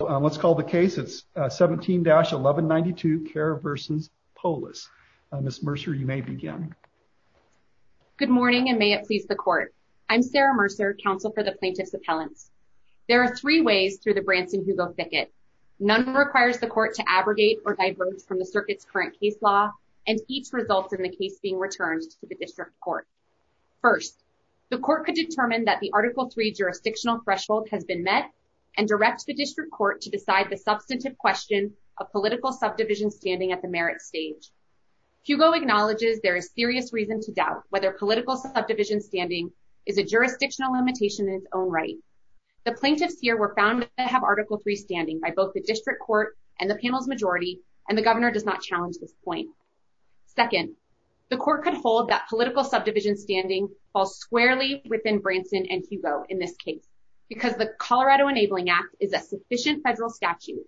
Let's call the case. It's 17-1192 Kerr v. Polis. Ms. Mercer, you may begin. Good morning and may it please the Court. I'm Sarah Mercer, Counsel for the Plaintiff's Appellant. There are three ways through the Branson-Hugo ticket. None requires the Court to abrogate or diverge from the circuit's current case law, and each results in the case being returned to the District Court. First, the Court could determine that the Article III jurisdictional threshold has been met and direct the District Court to decide the substantive question of political subdivision standing at the merit stage. Hugo acknowledges there is serious reason to doubt whether political subdivision standing is a jurisdictional limitation in its own right. The plaintiffs here were found to have Article III standing by both the District Court and the panel's majority, and the Governor does not challenge this point. Second, the Court could hold that political subdivision standing falls squarely within Branson v. Hugo in this case, because the Colorado Enabling Act is a sufficient federal statute,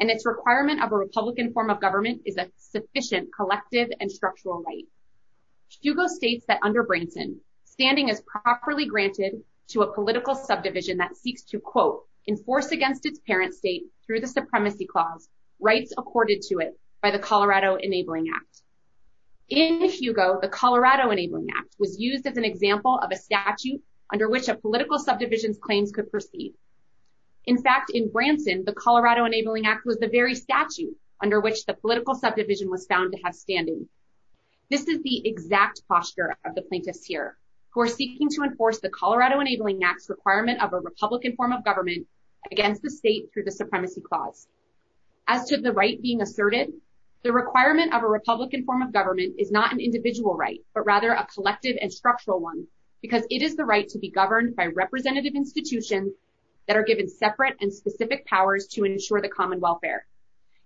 and its requirement of a Republican form of government is a sufficient collective and structural right. Hugo states that under Branson, standing is properly granted to a political subdivision that seeks to, quote, enforce against its parent state through the Supremacy Clause rights accorded to it by the Colorado Enabling Act. In Hugo, the Colorado Enabling Act was used as an example of a statute under which a political subdivision's claims could proceed. In fact, in Branson, the Colorado Enabling Act was the very statute under which the political subdivision was found to have standing. This is the exact posture of the plaintiffs here, who are seeking to enforce the Colorado Enabling Act's requirement of a Republican form of government against the state through the Supremacy Clause. As to the right being asserted, the requirement of a Republican form of government is not an individual right, but rather a collective and structural one, because it is the right to be governed by representative institutions that are given separate and specific powers to ensure the common welfare.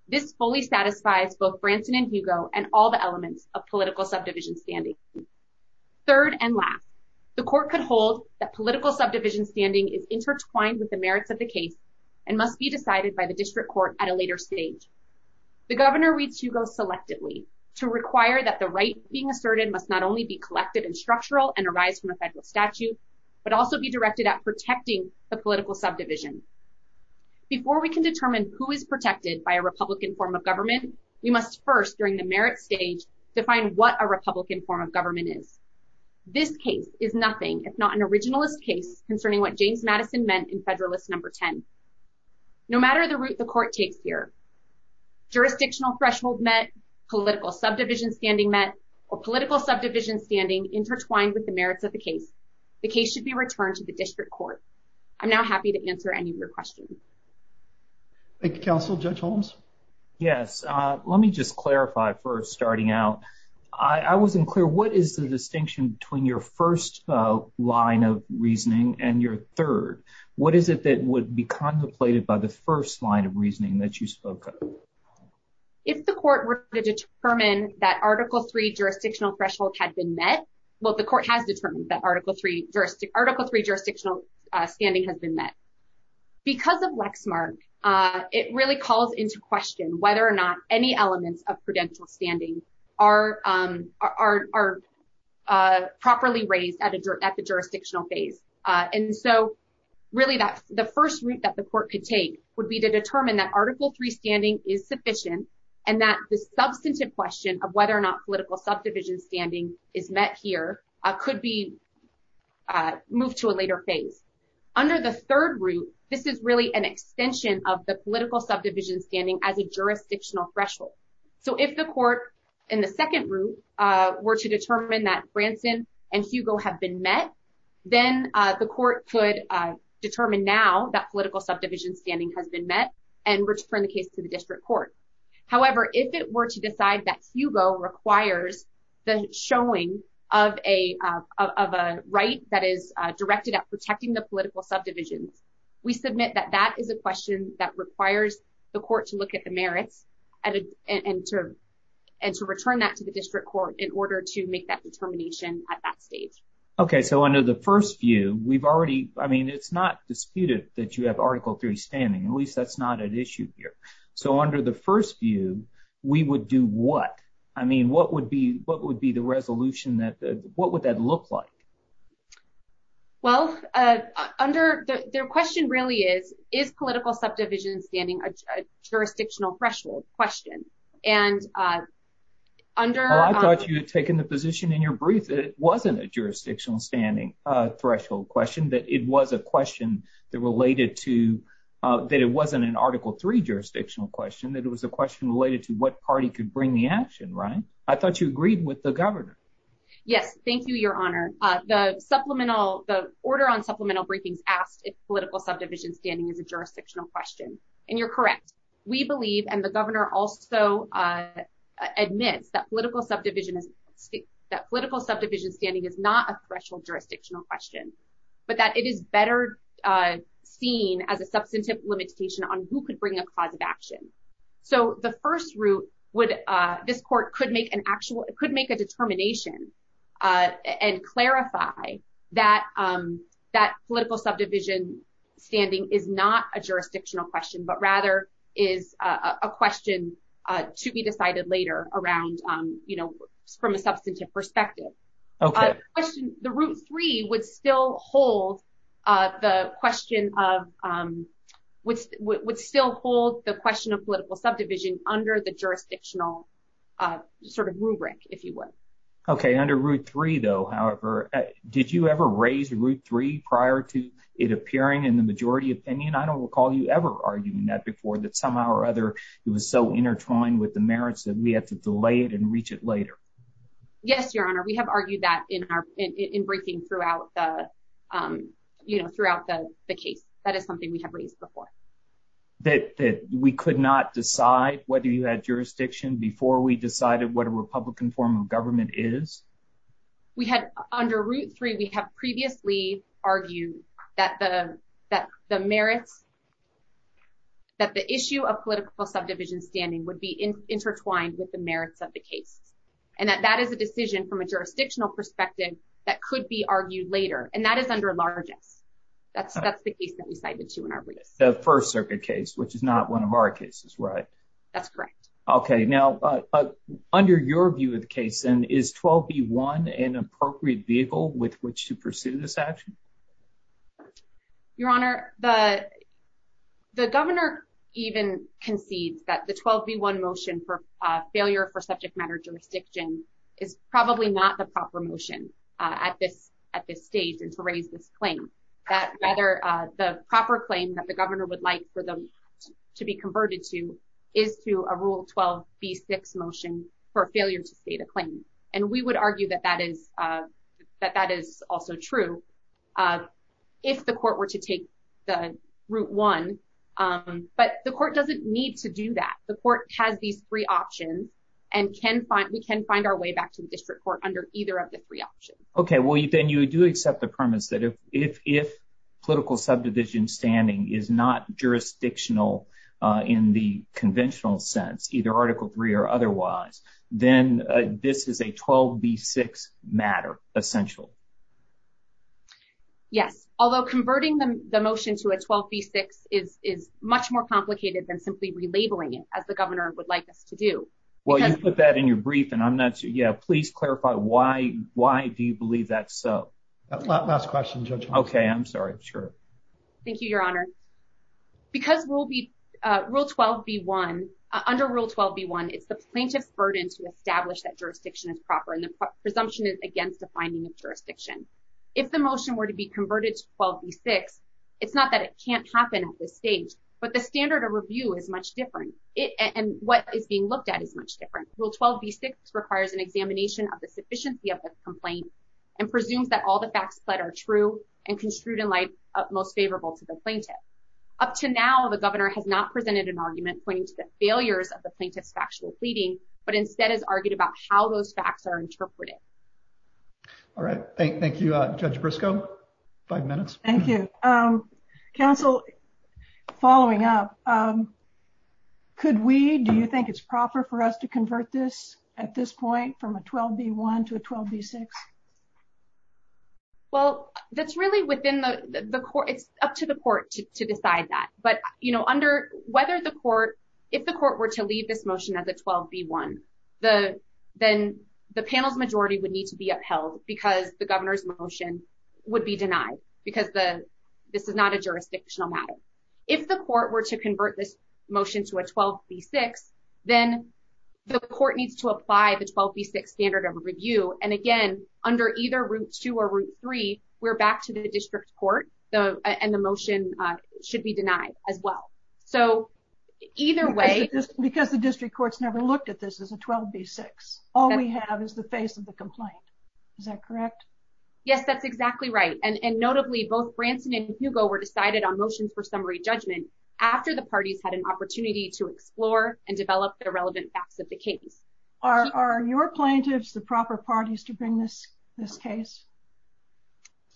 This fully satisfies both Branson v. Hugo and all the elements of political subdivision standing. Third and last, the Court could hold that political subdivision standing is intertwined with the merits of the case and must be decided by the District Court at a later stage. The Governor reached Hugo selectively to require that the rights being asserted must not only be collected and structural and arise from the federal statute, but also be directed at protecting the political subdivision. Before we can determine who is protected by a Republican form of government, we must first, during the merit stage, define what a Republican form of government is. This case is nothing if not an originalist case concerning what James Madison meant in Federalist Number 10. No matter the route the Court takes here, jurisdictional threshold met, political subdivision standing met, or political subdivision standing intertwined with the merits of the case, the case should be returned to the District Court. I'm now happy to answer any of your questions. Thank you, Counsel. Judge Holmes? Yes. Let me just clarify first, starting out. I wasn't clear. What is the distinction between your first line of reasoning and your third? What is it that would be contemplated by the first line of reasoning that you spoke of? If the Court were to determine that Article III jurisdictional threshold had been met, well, the Court has determined that Article III jurisdictional standing has been met. Because of Lexmark, it really calls into question whether or not any elements of prudential standing are properly raised at the jurisdictional phase. Really, the first route that the Court could take would be to determine that Article III standing is sufficient and that the substantive question of whether or not political subdivision standing is met here could be moved to a later phase. Under the third route, this is really an extension of the political subdivision standing as a jurisdictional threshold. So, if the Court in the second route were to determine that Branson and Hugo have been met, then the Court could determine now that political subdivision standing has been met and return the case to the District Court. However, if it were to decide that Hugo requires the showing of a right that is directed at protecting the political subdivision, we submit that that is a question that requires the Court to look at the merits and to return that to the District Court in order to make that determination at that stage. Okay, so under the first view, we've already, I mean, it's not disputed that you have Article III standing, at least that's not an issue here. So, under the first view, we would do what? I mean, what would be the resolution that, what would that look like? Well, under, the question really is, is political subdivision standing a jurisdictional threshold question? And under... I thought you had taken the position in your brief that it wasn't a jurisdictional standing threshold question, that it was a question that related to, that it wasn't an Article III jurisdictional question, that it was a question related to what party could bring the action, right? I thought you agreed with the Governor. Yes, thank you, Your Honor. The supplemental, the order on supplemental briefings asks if political subdivision standing is a jurisdictional question, and you're correct. We believe, and the Governor also admits, that political subdivision, that political subdivision standing is not a threshold jurisdictional question, but that it is better seen as a substantive limitation on who could bring a cause of action. So, the first route would, this court could make an actual, it could make a determination and clarify that, that political subdivision standing is not a jurisdictional question, but rather is a question to be decided later around, you know, from a substantive perspective. The Route 3 would still hold the question of, would still hold the question of political subdivision under the jurisdictional sort of rubric, if you will. Okay, under Route 3 though, however, did you ever raise Route 3 prior to it appearing in the majority opinion? I don't recall you ever arguing that before, that somehow or other it was so intertwined with the merits that we had to delay it and reach it later. Yes, Your Honor, we have argued that in our, in briefing throughout the, you know, throughout the case. That is something we have raised before. That we could not decide whether you had jurisdiction before we decided what a Republican form of government is? We had, under Route 3, we have previously argued that the, that the merits that the issue of political subdivision standing would be intertwined with the merits of the case, and that that is a decision from a jurisdictional perspective that could be argued later, and that is under largest. That's the case that we cited too in our brief. The First Circuit case, which is not one of our cases, right? That's correct. Okay, now under your view of the case, then, is 12b1 an appropriate vehicle with which to pursue this action? Your Honor, the Governor even concedes that the 12b1 motion for failure for subject matter jurisdiction is probably not the proper motion at this, at this stage and to raise this claim. That rather, the proper claim that the Governor would like for them to be converted to is to a Rule 12b6 motion for failure to state a claim, and we would argue that that is, that that is also true if the Court were to take the Route 1, but the Court doesn't need to do that. The Court has these three options and can find, we can find our way back to the District Court under either of the three options. Okay, well then you do accept the premise that if, if, if political subdivision standing is not jurisdictional in the conventional sense, either Article 3 or otherwise, then this is a 12b6 matter, essential. Yes, although converting the motion to a 12b6 is, is much more complicated than simply relabeling it as the Governor would like to do. Well, you put that in your brief and I'm not, yeah, please clarify why, why do you believe that's so? Last question, Judge. Okay, I'm sorry, sure. Thank you, Your Honor. Because Rule 12b1, under Rule 12b1, it's the plaintiff's burden to establish that jurisdiction is proper and the presumption is against defining the jurisdiction. If the motion were to be converted to 12b6, it's not that it can't happen at this stage, but the standard of review is much different. It, and what is being looked at is much different. Rule 12b6 requires an examination of the sufficiency of this complaint and presumes that all the facts said are true and construed in light of most favorable to the plaintiff. Up to now, the Governor has not presented an argument pointing to the failures of the plaintiff's factual pleading, but instead has argued about how those facts are interpreted. All right, thank, thank you, Judge Briscoe. Five minutes. Thank you. Counsel, following up, could we, do you think it's proper for us to convert this at this point from a 12b1 to a 12b6? Well, that's really within the, the court, to decide that. But, you know, under, whether the court, if the court were to leave this motion as a 12b1, the, then the panel's majority would need to be upheld because the Governor's motion would be denied because the, this is not a jurisdictional matter. If the court were to convert this motion to a 12b6, then the court needs to apply the 12b6 standard of review. And should be denied as well. So either way... Because the district court's never looked at this as a 12b6. All we have is the face of the complaint. Is that correct? Yes, that's exactly right. And notably, both Branson and Hugo were decided on motions for summary judgment after the parties had an opportunity to explore and develop their relevant facts of the case. Are your plaintiffs the proper parties to bring this, this case?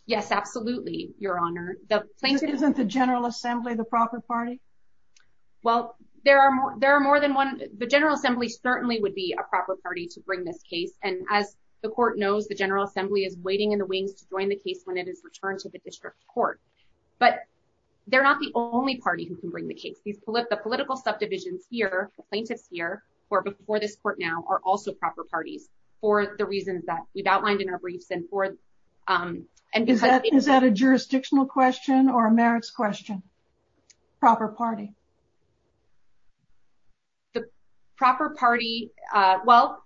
Yes, absolutely, Your Honor. The plaintiffs... Isn't the General Assembly the proper party? Well, there are more, there are more than one. The General Assembly certainly would be a proper party to bring this case. And as the court knows, the General Assembly is waiting in the wings to join the case when it is returned to the district court. But they're not the only party who can bring the case. These political, the political subdivisions here, the plaintiffs here, or before this court now, are also proper parties for the reasons that we've outlined in our briefs and forth. Is that a jurisdictional question or a merits question? Proper party? The proper party, well,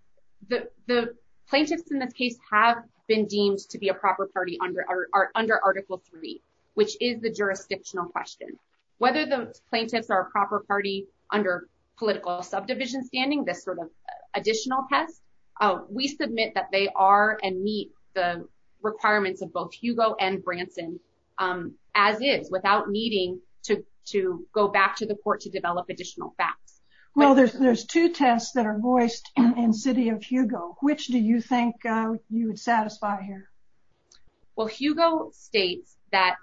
the plaintiffs in the case have been deemed to be a proper party under Article 3, which is the jurisdictional question. Whether the plaintiffs are a proper party under political subdivision standing, this sort of additional test, we submit that they are and requirements of both Hugo and Branson as is, without needing to go back to the court to develop additional facts. Well, there's two tests that are voiced in City of Hugo. Which do you think you would satisfy here? Well, Hugo states that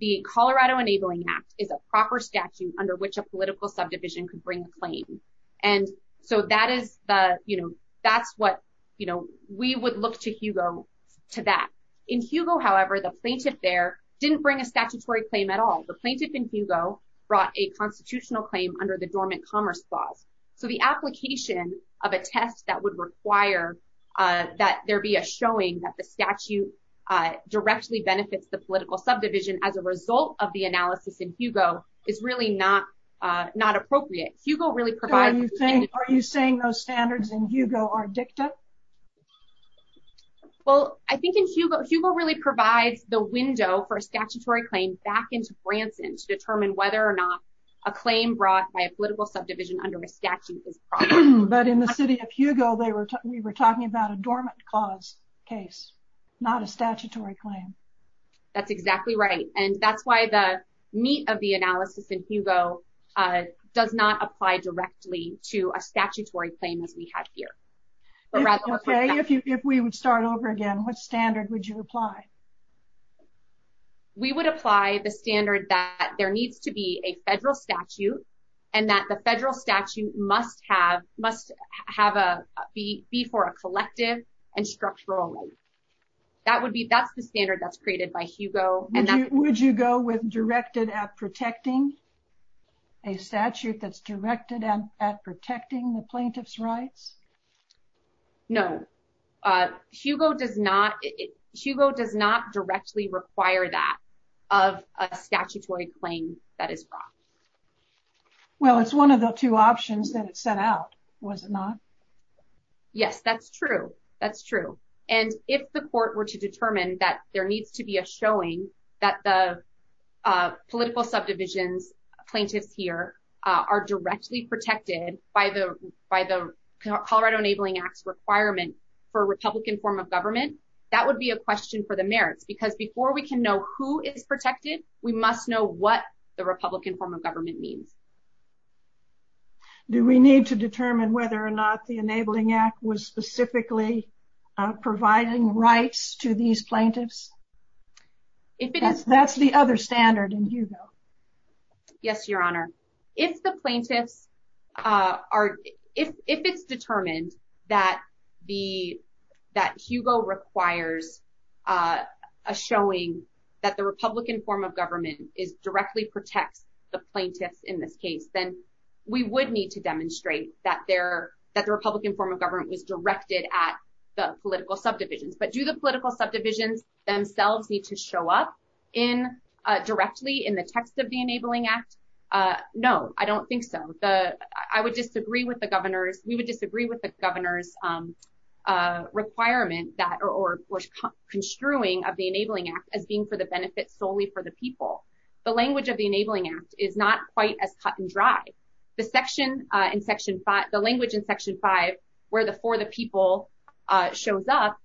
the Colorado Enabling Act is a proper statute under which a political subdivision could bring a claim. And so that is the, you know, that's what, you know, we would look to Hugo to that. In Hugo, however, the plaintiff there didn't bring a statutory claim at all. The plaintiff in Hugo brought a constitutional claim under the Dormant Commerce Law. So the application of a test that would require that there be a showing that the statute directly benefits the political subdivision as a result of the analysis in Hugo is really not appropriate. Hugo really provides... Are you saying those standards in Hugo are dicta? Well, I think in Hugo, Hugo really provides the window for a statutory claim back into Branson to determine whether or not a claim brought by a political subdivision under a statute is proper. But in the City of Hugo, we were talking about a dormant cause case, not a statutory claim. That's exactly right. And that's why the meat of the analysis in Hugo does not apply directly to a statutory claim that we have here. If we would start over again, what standard would you apply? We would apply the standard that there needs to be a federal statute and that the federal statute must have, must have a, be for a collective and structural one. That would be, that's the standard that's created by Hugo. Would you go with directed at protecting a statute that's directed at protecting the plaintiff's rights? No. Hugo does not, Hugo does not directly require that of a statutory claim that is brought. Well, it's one of the two options that it sent out, was it not? Yes, that's true. That's true. And if the court were to determine that there needs to be a showing that the political subdivisions plaintiff here are directly protected by the Colorado Enabling Act requirement for a Republican form of government, that would be a question for the mayor because before we can know who is protected, we must know what the Republican form of government means. Do we need to determine whether or not the Enabling Act was specifically providing rights to these plaintiffs? That's the other standard in Hugo. Yes, Your Honor. If the plaintiffs are, if it's determined that the, that Hugo requires a showing that the Republican form of government is directly protect the plaintiffs in this case, then we would need to demonstrate that they're, that the Republican form of government was the political subdivision. But do the political subdivisions themselves need to show up in directly in the text of the Enabling Act? No, I don't think so. The, I would disagree with the governor's, we would disagree with the governor's requirement that or construing of the Enabling Act as being for the benefit solely for the people. The language of the Enabling Act is not quite as dry. The section in section five, the language in section five, where the for the people shows up,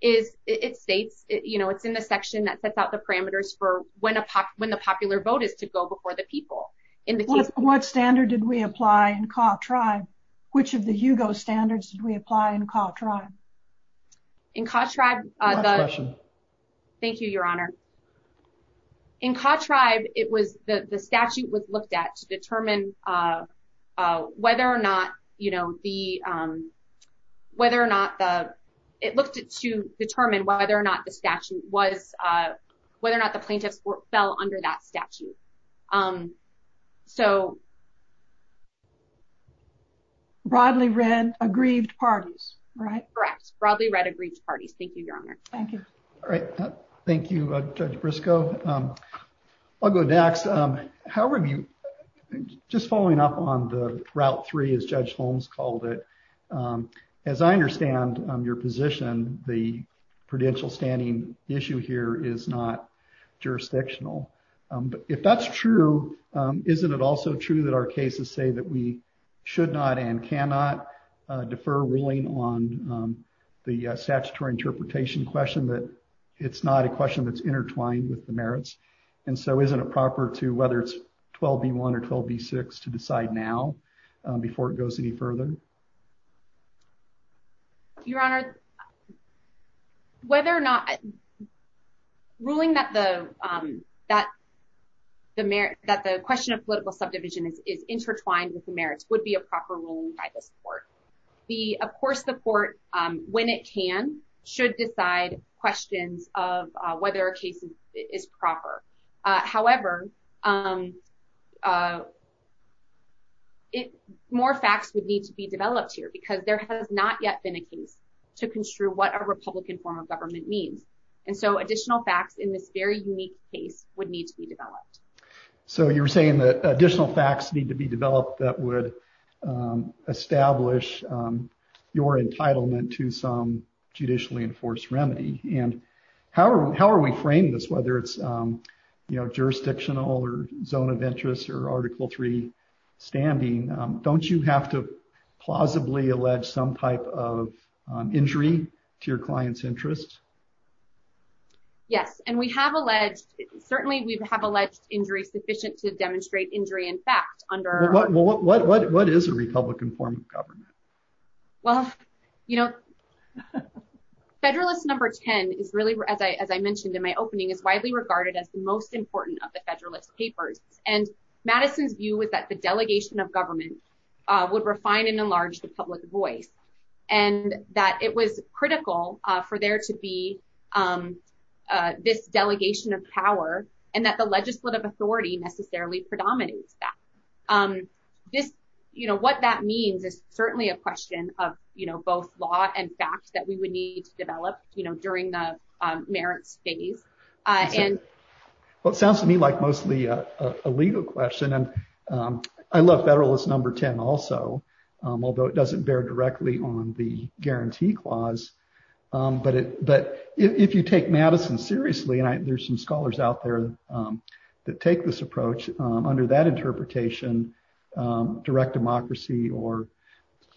is it states, you know, it's in the section that sets out the parameters for when a pop, when the popular vote is to go before the people. What standard did we apply in Caw Tribe? Which of the Hugo standards did we apply in Caw Tribe? In Caw Tribe, thank you, Your Honor. In Caw Tribe, it was the statute was looked at to determine whether or not, you know, the, whether or not it looked to determine whether or not the statute was, whether or not the plaintiff fell under that statute. So. Broadly read, agreed parties, right? Correct. Broadly read, um, however, just following up on the route three, as Judge Holmes called it, as I understand your position, the prudential standing issue here is not jurisdictional. If that's true, isn't it also true that our cases say that we should not and cannot defer ruling on the statutory interpretation question, that it's not a question that's intertwined with the merits? And so isn't it proper to whether it's 12B1 or 12B6 to decide now before it goes any further? Your Honor, whether or not ruling that the, um, that the merits, that the question of political subdivision is intertwined with the merits would be a proper ruling by the court. The, of course, the court, um, when it can, should decide questions of, uh, whether a case is proper. However, um, uh, more facts would need to be developed here because there has not yet been a case to construe what a Republican form of government means. And so additional facts in this very unique case would need to be developed. So you're saying that additional facts need to be developed that would, um, establish, um, your entitlement to some judicially enforced remedy. And how are, how are we framing this, whether it's, um, you know, jurisdictional or zone of interest or Article III standing? Um, don't you have to plausibly allege some type of, um, injury to your client's interests? Yes. And we have alleged, certainly we have alleged injury sufficient to demonstrate injury and facts under... Well, what, what, what, what is a Republican form of government? Well, you know, Federalist number 10 is really, as I, as I mentioned in my opening, is widely regarded as the most important of the Federalist papers. And Madison's view was that the delegation of government, uh, would refine and enlarge the public voice. And that it was critical, uh, for there to be, um, uh, this delegation of power and that the legislative authority necessarily predominates that. Um, this, you know, what that means is certainly a question of, you know, both law and facts that we would need to develop, you know, during the, um, merit phase. Uh, and... Well, it sounds to me like mostly a, a legal question. And, um, I love Federalist number 10 also, um, although it doesn't bear directly on the guarantee clause. Um, but it, but if, if you take Madison seriously, and I, there's some scholars out there, um, that take this approach, um, under that interpretation, um, direct democracy or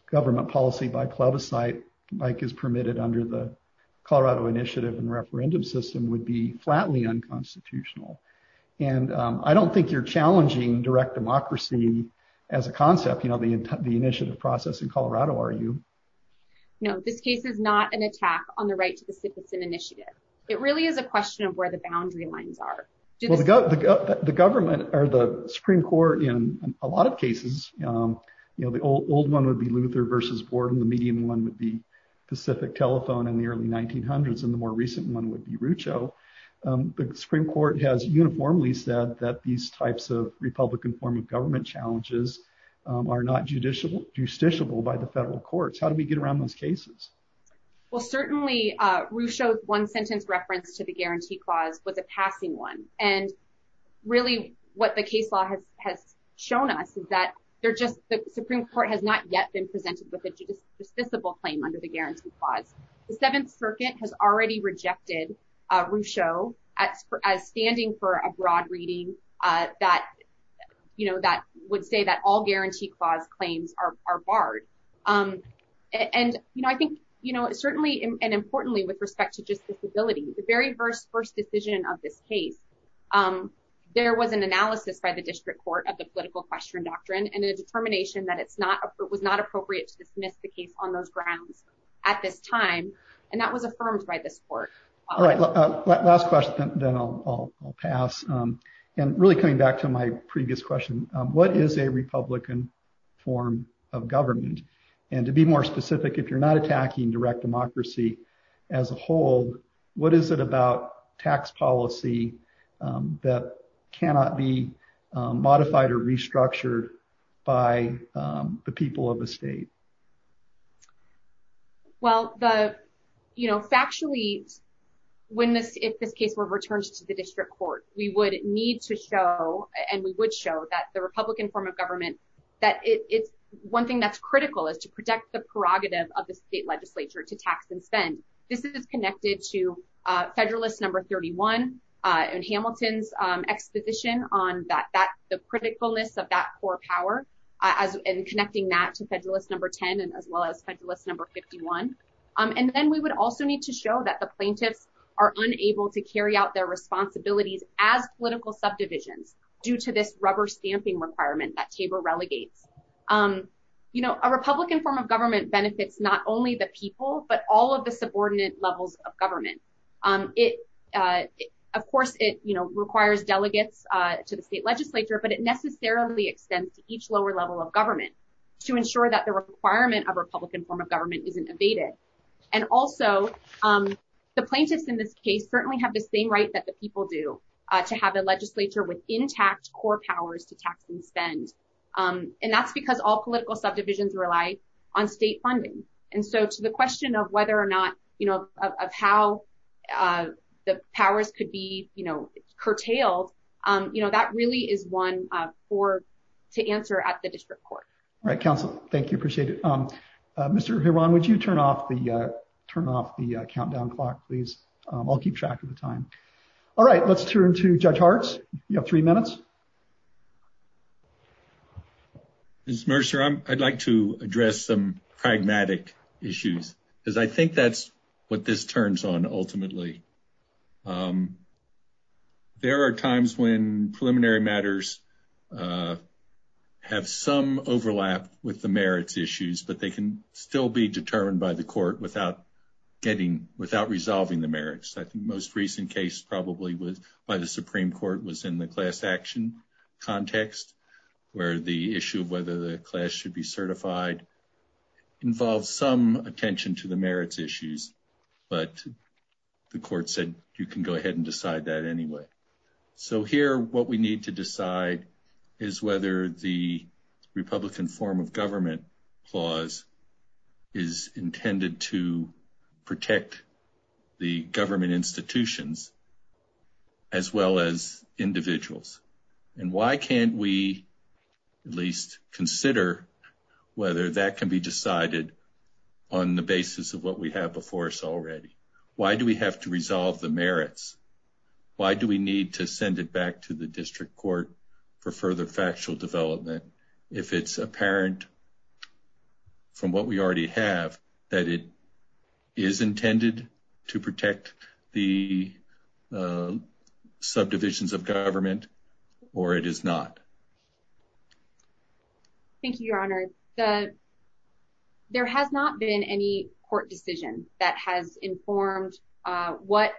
government policy by plebiscite, like is permitted under the Colorado initiative and referendum system would be flatly unconstitutional. And, um, I don't think you're challenging direct democracy as a concept, you know, the, the initiative process in Colorado, are you? No, this case is not an attack on the right to the citizen initiative. It really is a question of where the boundary lines are. Well, the government or the Supreme Court in a lot of cases, um, you know, the old, old one would be Luther versus Borden. The medium one would be Pacific Telephone in the early 1900s. And the more recent one would be Rucho. Um, the Supreme Court has uniformly said that these types of Republican form of government challenges, um, are not judicial, justiciable by the federal courts. How do we get around those cases? Well, certainly, uh, Rucho's one sentence reference to the guarantee clause was a passing one. And really what the case law has, has shown us is that they're just, the Supreme Court has not yet been presented with a justiciable claim under the guarantee clause. The Seventh Circuit has already rejected, uh, Rucho as, as standing for a broad reading, uh, that, you know, that would say that all guarantee clause claims are, are barred. Um, and, you know, I think, you know, it certainly, and importantly with respect to justiciability, the very first, first decision of this case, um, there was an analysis by the district court of the political question doctrine and the determination that it's not, it was not appropriate to submit the case on those grounds at this time. And that was affirmed by this court. All right. Last question, then I'll, I'll pass. Um, and really coming back to my previous question, what is a Republican form of government? And to be more specific, if you're not attacking direct democracy as a whole, what is it about tax policy, um, that cannot be, um, modified or restructured by, um, the people of the state? Well, the, you know, factually, when this, if this case were returned to the district court, we would need to show, and we would show that the Republican form of government, that it's one thing that's critical is to protect the prerogatives of the state legislature to tax and spend. This is connected to, uh, Federalist number 31, uh, Hamilton's, um, exposition on that, that the critical list of that core power, uh, and connecting that to Federalist number 10, and as well as Federalist number 51. Um, and then we would also need to show that the plaintiffs are unable to carry out their responsibilities as political subdivisions due to this rubber stamping requirement that Cable relegates. Um, you know, a Republican form of government benefits, not only the people, but all of the subordinate levels of government. Um, it, uh, of course, it, you know, requires delegates, uh, to the state legislature, but it necessarily extends to each lower level of government to ensure that the requirement of Republican form of government isn't abated. And also, um, the plaintiffs in this case certainly have the same rights that the people do, uh, to have a legislature with intact core powers to tax and spend. Um, and that's because all whether or not, you know, of how, uh, the powers could be, you know, curtailed, um, you know, that really is one, uh, for to answer at the district court. All right. Council. Thank you. Appreciate it. Um, uh, Mr. Heron, would you turn off the, uh, turn off the countdown clock, please? Um, I'll keep track of the time. All right. Let's turn to judge hearts. You have three minutes. Okay. It's Mercer. I'm I'd like to address some pragmatic issues because I think that's what this turns on. Ultimately. Um, there are times when preliminary matters, uh, have some overlap with the merits issues, but they can still be determined by the court without getting, without resolving the merits. That's the most recent case probably was by the Supreme court was in the class action context where the issue of whether the class should be certified involves some attention to the merits issues, but the court said you can go ahead and decide that anyway. So here, what we need to decide is whether the Republican form of as well as individuals. And why can't we at least consider whether that can be decided on the basis of what we have before us already? Why do we have to resolve the merits? Why do we need to send it back to the district court for further factual development? If it's subdivisions of government or it is not. Thank you, your honor. The, there has not been any court decisions that has informed, uh, what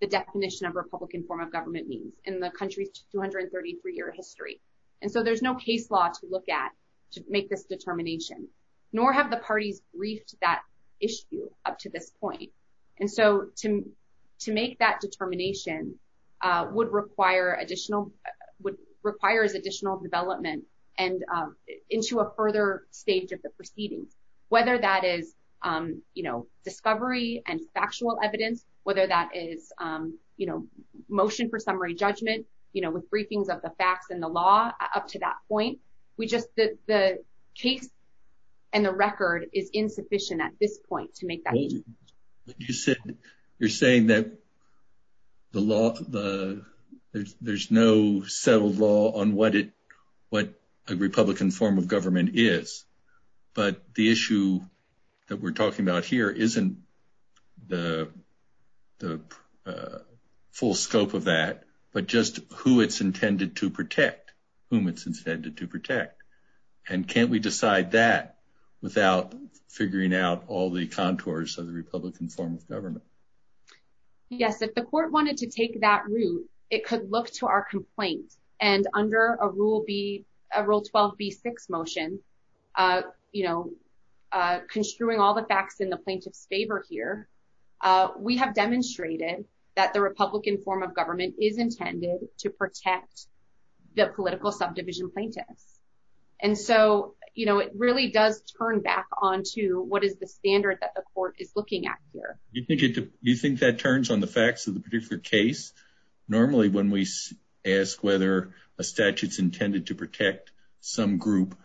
the definition of Republican form of government means in the country's 233 year history. And so there's no case law to look at to make this determination, nor have the parties reached that issue up to this point. And so to, to make that determination, uh, would require additional, would require as additional development and, um, into a further phase of the proceedings, whether that is, um, you know, discovery and factual evidence, whether that is, um, you know, motion for summary judgment, you know, with briefings of the facts and the law up to that point, we just, the case and the record is insufficient at this point to make that. You're saying that the law, the there's, there's no settled law on what it, what the Republican form of government is, but the issue that we're talking about here, isn't the, the, uh, uh, scope of that, but just who it's intended to protect, whom it's intended to protect. And can't we decide that without figuring out all the contours of the Republican form of government? Yes. If the court wanted to take that route, it could look to our complaints and under a rule B, a rule 12 B six motion, uh, you know, uh, construing all the facts in the plaintiff's that the Republican form of government is intended to protect the political subdivision plaintiff. And so, you know, it really does turn back onto what is the standard that the court is looking at here? Do you think that turns on the facts of the particular case? Normally when we ask whether a statute is intended to protect some group,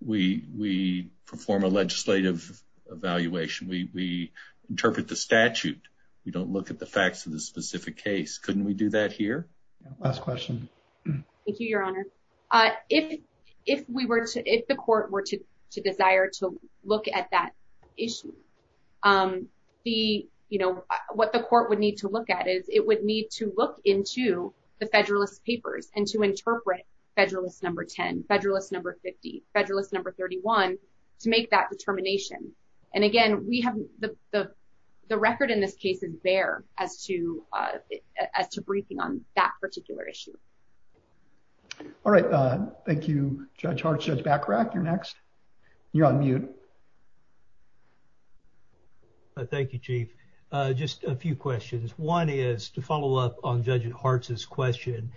we, we perform a legislative evaluation. We, interpret the statute. We don't look at the facts of the specific case. Couldn't we do that here? Last question. Thank you, your honor. Uh, if, if we were to, if the court were to desire to look at that issue, um, the, you know, what the court would need to look at is it would need to look into the federalist papers and to interpret federalist number 10, federalist number 50, federalist number 31 to make that determination. And again, we have the, the, the record in this case is there as to, uh, as to briefing on that particular issue. All right. Uh, thank you. Judge Hart says back rack. You're next. You're on mute. Thank you, chief. Uh, just a few questions. One is to follow up on judge and hearts is question,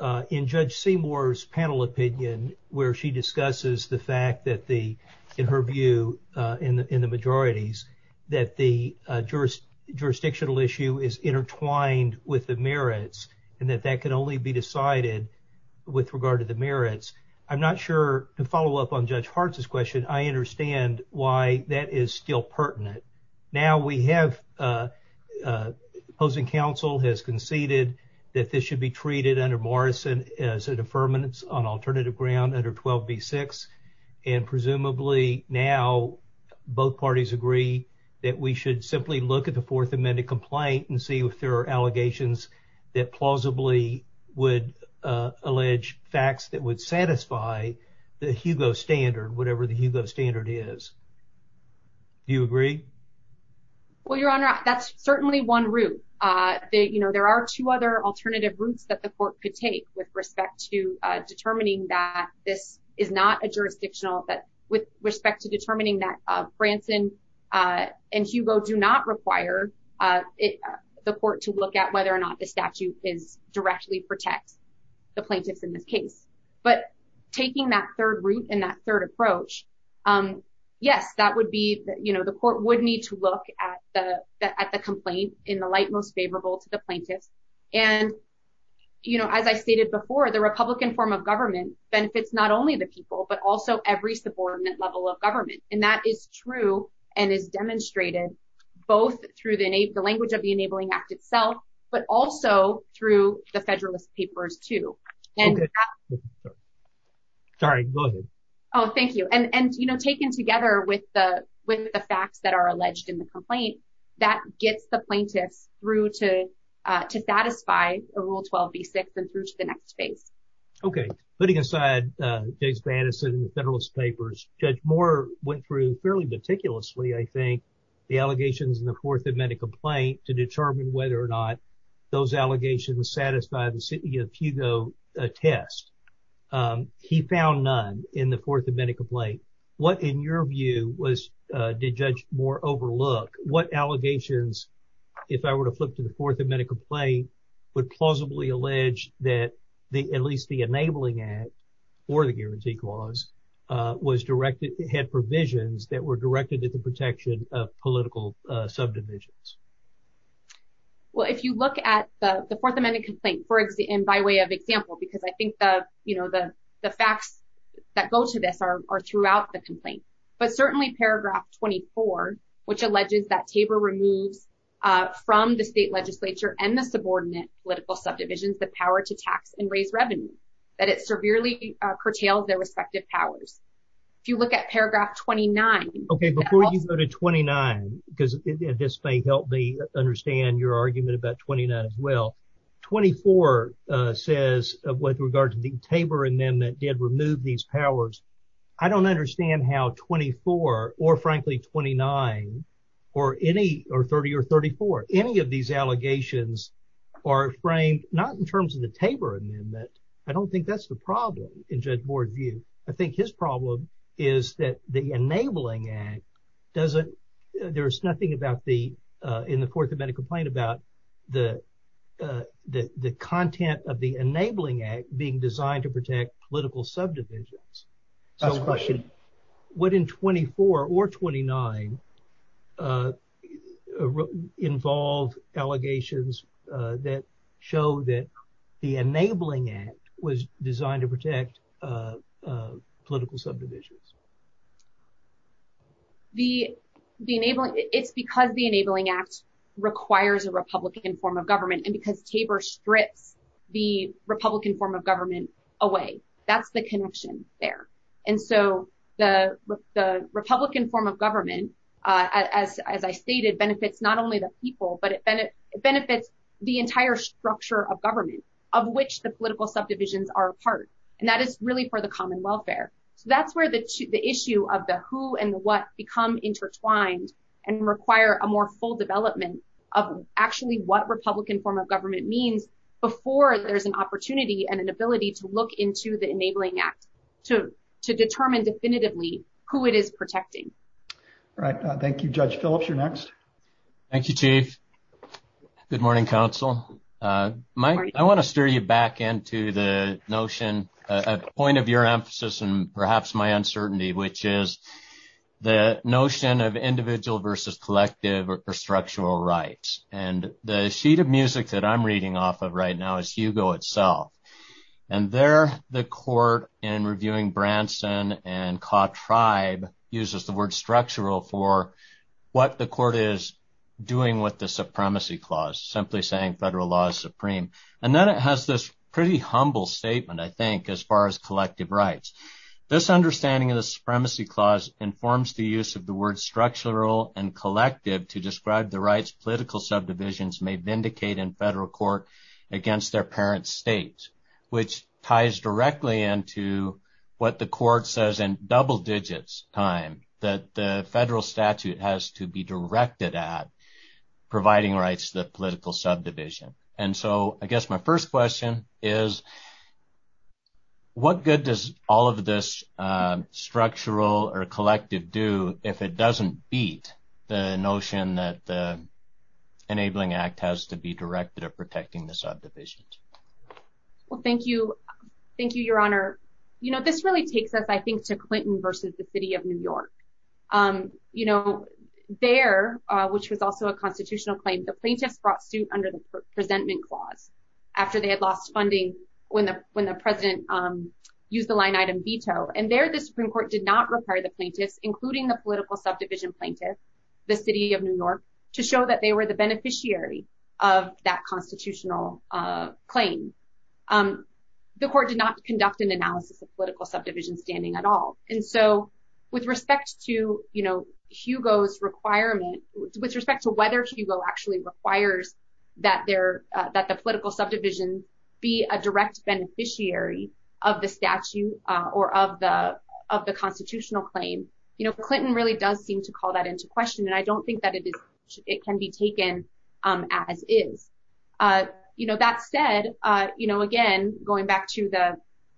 uh, in judge Seymour's panel opinion, where she discusses the fact that the, in her view, uh, in the, in the majorities that the, uh, jurist jurisdictional issue is intertwined with the merits and that that can only be decided with regard to the merits. I'm not sure to follow up on judge hearts is question. I understand why that is still pertinent. Now we have, uh, uh, opposing council has conceded that this should be treated under Morrison as a deferment on alternative ground under 12 B six. And presumably now both parties agree that we should simply look at the fourth amendment complaint and see if there are allegations that plausibly would, uh, allege facts that would satisfy the Hugo standard, whatever the Hugo standard is. Do you agree? Well, your honor, that's certainly one route. Uh, you know, there are two other alternative routes that the court could take with respect to, uh, determining that this is not a jurisdictional, but with respect to determining that, uh, Branson, uh, and Hugo do not require, uh, the court to look at whether or not the statute is directly protect the plaintiffs in this case, but taking that third route and that third approach. Um, yes, that would be, you know, the court would need to look at the, at the complaint in the light, most favorable to the plaintiff. And, you know, as I stated before the Republican form of government benefits, not only the people, but also every subordinate level of government. And that is true and is demonstrated both through the NA the language of the enabling act itself, but also through the federalist papers too. And sorry. Oh, thank you. And, and, you know, taken together with the, with the facts that are alleged in the complaint that gets the plaintiff through to, uh, to satisfy a rule 12 B six and through to the next phase. Okay. Putting aside, uh, Jason Anderson, the federalist papers judge more went through fairly meticulously. I think the allegations in the fourth amendment complaint to determine whether or not those allegations satisfied the city of Hugo a test. Um, he found none in the fourth amendment complaint. What in your view was, uh, did judge more overlook what allegations, if I were to flip to the fourth amendment complaint would plausibly allege that the, at least the enabling act or the political subdivisions? Well, if you look at the fourth amendment complaint, for example, and by way of example, because I think the, you know, the, the facts that go to this are throughout the complaint, but certainly paragraph 24, which alleges that caber removed, uh, from the state legislature and the subordinate political subdivisions, the power to tax and raise revenue that it severely curtailed their respective powers. If you look at paragraph 29, okay, before you go to 29, because this may help me understand your argument about 29 as well, 24, uh, says of what regards to the caber and then that did remove these powers. I don't understand how 24 or frankly, 29 or any, or 30 or 34, any of these allegations are framed, not in terms of the caber amendment. I don't think that's the problem in judge board view. I think his problem is that the enabling act doesn't, there was nothing about the, uh, in the fourth amendment complaint about the, uh, the, the content of the enabling act being designed to protect political subdivisions. What in 24 or 29, uh, involve allegations, uh, that the enabling act was designed to protect, uh, uh, political subdivisions. The, the enabling it's because the enabling act requires a Republican form of government and because caber stripped the Republican form of government away, that's the connection there. And so the, the Republican form of government, uh, as, as I stated benefits, not only the people, but it benefits the entire structure of government of which the political subdivisions are a part. And that is really for the common welfare. That's where the issue of the who and what become intertwined and require a more full development of actually what Republican form of government means before there's an opportunity and an ability to look into the enabling act to, to determine definitively who it is protecting. All right. Thank you, judge Phillips. You're next. Thank you, chief. Good morning council. Uh, Mike, I want to steer you back into the notion, uh, point of your emphasis and perhaps my uncertainty, which is the notion of individual versus collective or structural rights. And the sheet of music that I'm reading off of right now is Hugo itself. And there the court and reviewing Branson and caught tribe uses the word structural for what the court is doing with the supremacy clause, simply saying federal law is supreme. And then it has this pretty humble statement. I think as far as collective rights, this understanding of the supremacy clause informs the use of the word structural and collective to describe the rights, political subdivisions may vindicate in federal court against their parents' states, which ties directly into what the court says in double digits time that the federal statute has to be directed at providing rights to the political subdivision. And so I guess my first question is what good does all of this, uh, structural or collective do if it doesn't beat the notion that the enabling act has to be directed at protecting the subdivisions? Well, thank you. Thank you, your honor. You know, this really takes us, I think to Clinton versus the city of New York. Um, you know, there, uh, which was also a constitutional claim, the plaintiff brought suit under the presentment clause after they had lost funding when the, when the president, um, use the line item veto and there, the Supreme court did not require the plaintiff, including the political subdivision plaintiff, the city of New York to show that they were the beneficiary of that constitutional, uh, claim. Um, the court did not conduct an analysis of political subdivision standing at all. And so with respect to, you know, Hugo's requirement with respect to whether she will actually requires that there, uh, that the political subdivision be a direct beneficiary of the statute, uh, or of the, of the constitutional claim, you know, Clinton really does seem to call that into question. And I don't think that it is, it can be taken, um, as is, uh, you know, that said, uh, you know, again, going back to the,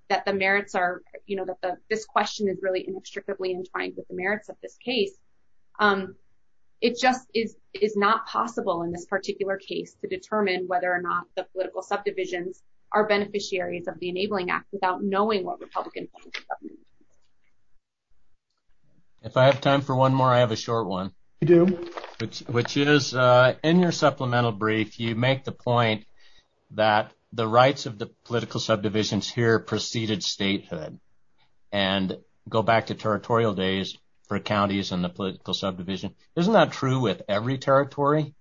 that the merits are, you know, that the, this question is really inextricably entwined with the merits of this case. Um, it just is, is not possible in this particular case to determine whether or not the political subdivision are beneficiaries of the enabling act without knowing what Republicans. If I have time for one more, I have a short one, which is, uh, in your supplemental brief, you make the point that the rights of the political subdivisions here preceded statehood and go back to territorial days for counties and the political subdivision. Isn't that true with every territory?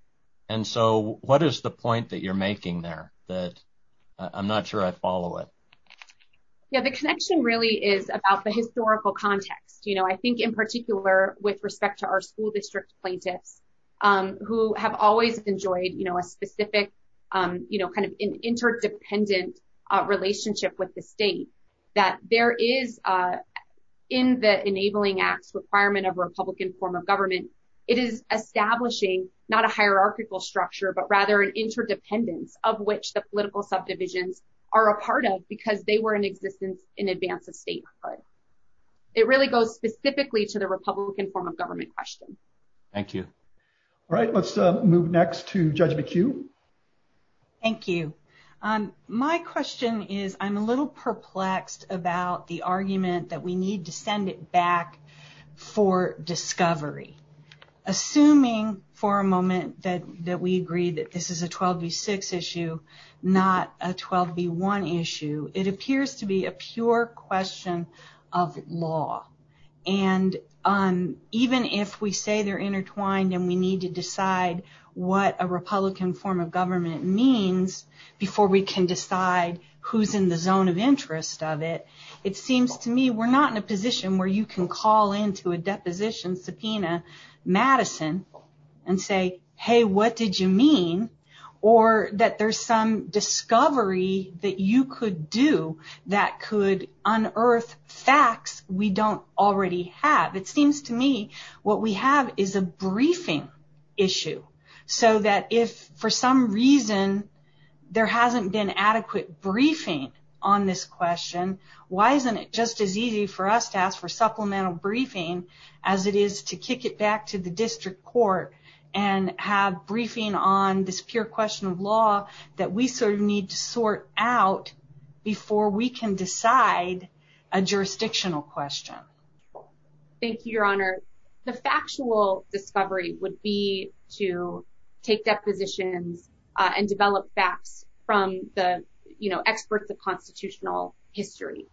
And so what is the point that you're making there that I'm not sure I follow it? Yeah. The connection really is about the historical context. You know, I think in particular with respect to our school district plaintiffs, um, who have always enjoyed, you know, a specific, um, you know, kind of an interdependent relationship with the state that there is, uh, in the enabling act requirement of Republican form of government, it is establishing not a hierarchical structure, but rather an interdependence of which the political subdivisions are a part of because they were in existence in advance of statehood. It really goes specifically to the Republican form of government questions. Thank you. All right. Let's move next to the queue. Thank you. Um, my question is I'm a little perplexed about the argument that we need to send it back for discovery, assuming for a moment that, that we agree that this is a 12 v six issue, not a 12 v one issue. It appears to be a pure question of law. And, um, even if we say they're intertwined and we need to decide what a Republican form of government means before we can decide who's in the zone of interest of it, it seems to me we're not in a position where you can call into a deposition subpoena Madison and say, Hey, what did you mean? Or that there's some discovery that you could do that could unearth facts we don't already have. It seems to me what we have is a briefing issue so that if for some reason there hasn't been adequate briefing on this question, why isn't it just as easy for us to ask for supplemental briefing as it is to kick it back to the district court and have briefing on this pure question of law that we sort of need to sort out before we can decide a jurisdictional question. Thank you, Your Honor. The factual discovery would be to take that position and develop facts from the experts of constitutional history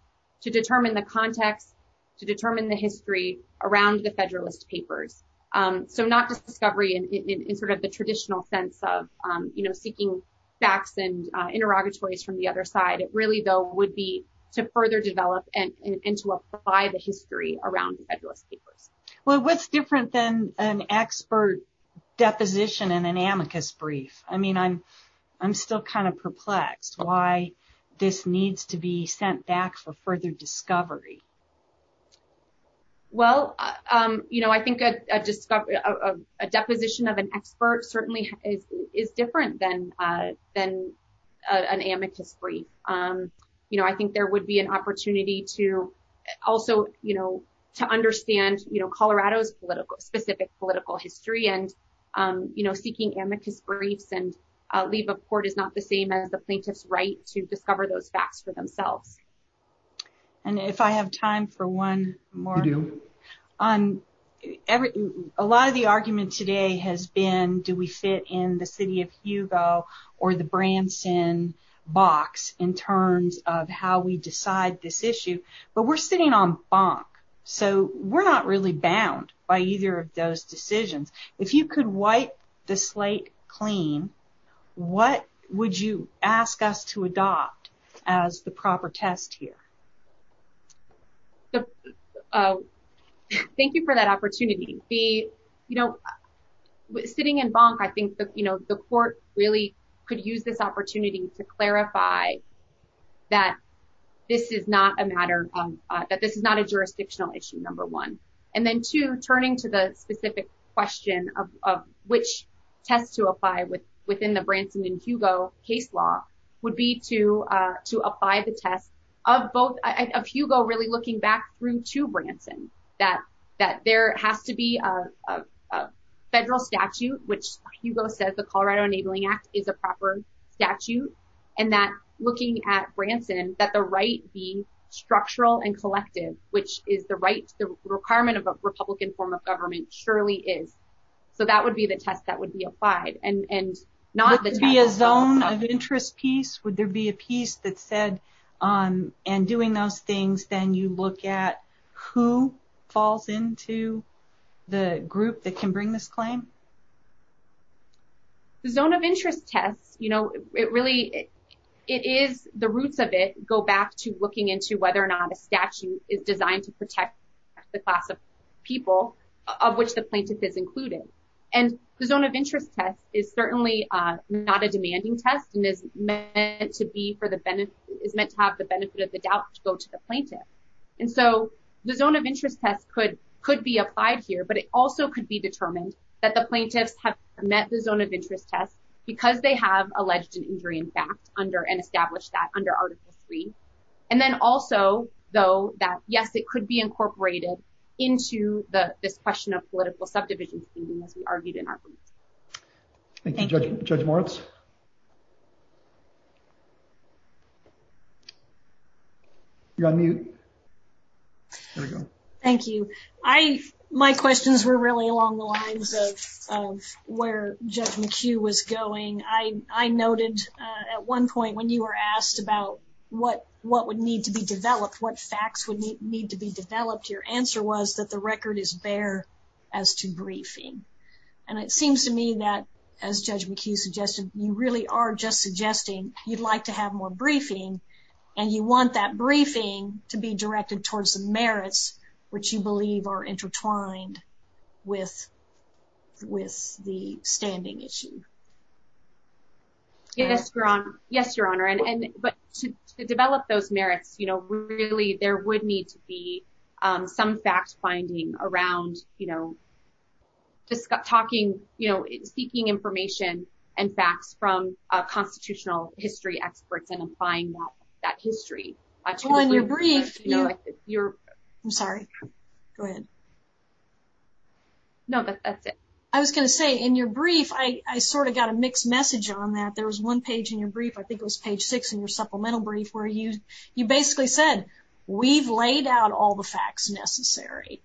to determine the context, to determine the history around the federalist papers. Um, so not just discovery in, in, in, in sort of the traditional sense of, um, you know, seeking facts and interrogatories from the other side. It really would be to further develop and to apply the history around the federalist papers. Well, what's different than an expert deposition in an amicus brief? I mean, I'm, I'm still kind of perplexed why this needs to be sent back for further discovery. Well, um, you know, I think, uh, uh, a deposition of an expert certainly is different than, uh, an amicus brief. Um, you know, I think there would be an opportunity to also, you know, to understand, you know, Colorado's political specific political history and, um, you know, seeking amicus briefs and leave of court is not the same as a plaintiff's right to discover those facts for themselves. And if I have time for one more, um, every, a lot of the argument today has been, do we fit in the city of Hugo or the Brampton box in terms of how we decide this issue, but we're sitting on bonk. So we're not really bound by either of those decisions. If you could wipe the slate clean, what would you ask us to adopt as the proper test here? So, uh, thank you for that opportunity. The, you know, sitting in bonk, I think that, you know, the court really could use this opportunity to clarify that this is not a matter of, uh, that this is not a jurisdictional issue, number one, and then two turning to the specific question of, of which test to apply with within the Brampton Hugo case law would be to, uh, to apply the test of both of Hugo, really looking back through to Brampton that, that there has to be a federal statute, which Hugo says the Colorado enabling act is a proper statute. And that looking at Brampton, that the right being structural and collective, which is the right requirement of a Republican form of government surely is. So that would be the test that would be applied and not to be a zone of interest piece. Would there be a piece that said, um, and doing those things, then you look at who falls into the group that can bring this claim. The zone of interest test, you know, it really, it is the roots of it go back to looking into whether or not a statute is designed to protect the class of people of which the plaintiff is included. And the zone of interest test is certainly, uh, not a demanding test and is meant to be for the benefit is meant to have the benefit of the doubt to go to the plaintiff. And so the zone of interest test could, could be applied here, but it also could be determined that the plaintiffs have met the zone of interest test because they have alleged an injury in fact, under an established that under article three. And then also though, that yes, it could be incorporated into the discussion of political subdivision. We argued in our group. Thank you. Judge Moritz. You're on mute. Thank you. I, my questions were really along the lines of, of where Judge McHugh was going. I, I noted, uh, at one point when you were asked about what, what would need to be developed, what facts would need to be developed. Your answer was that the record is bare as to briefing. And it seems to me that as Judge McHugh suggested, you really are just suggesting you'd like to have more briefing and you want that briefing to be directed towards merits, which you believe are intertwined with, with the standing issue. Yes, Your Honor. Yes, Your Honor. And, and, but to develop those merits, you know, really there would need to be, um, some facts finding around, you know, just talking, you know, seeking information and facts from a constitutional history experts and applying that, that history. On your brief, you're, I'm sorry, go ahead. No, but I was going to say in your brief, I, I sort of got a mixed message on that. There was one page in your brief, I think it was page six in your supplemental brief where you, you basically said, we've laid out all the facts necessary.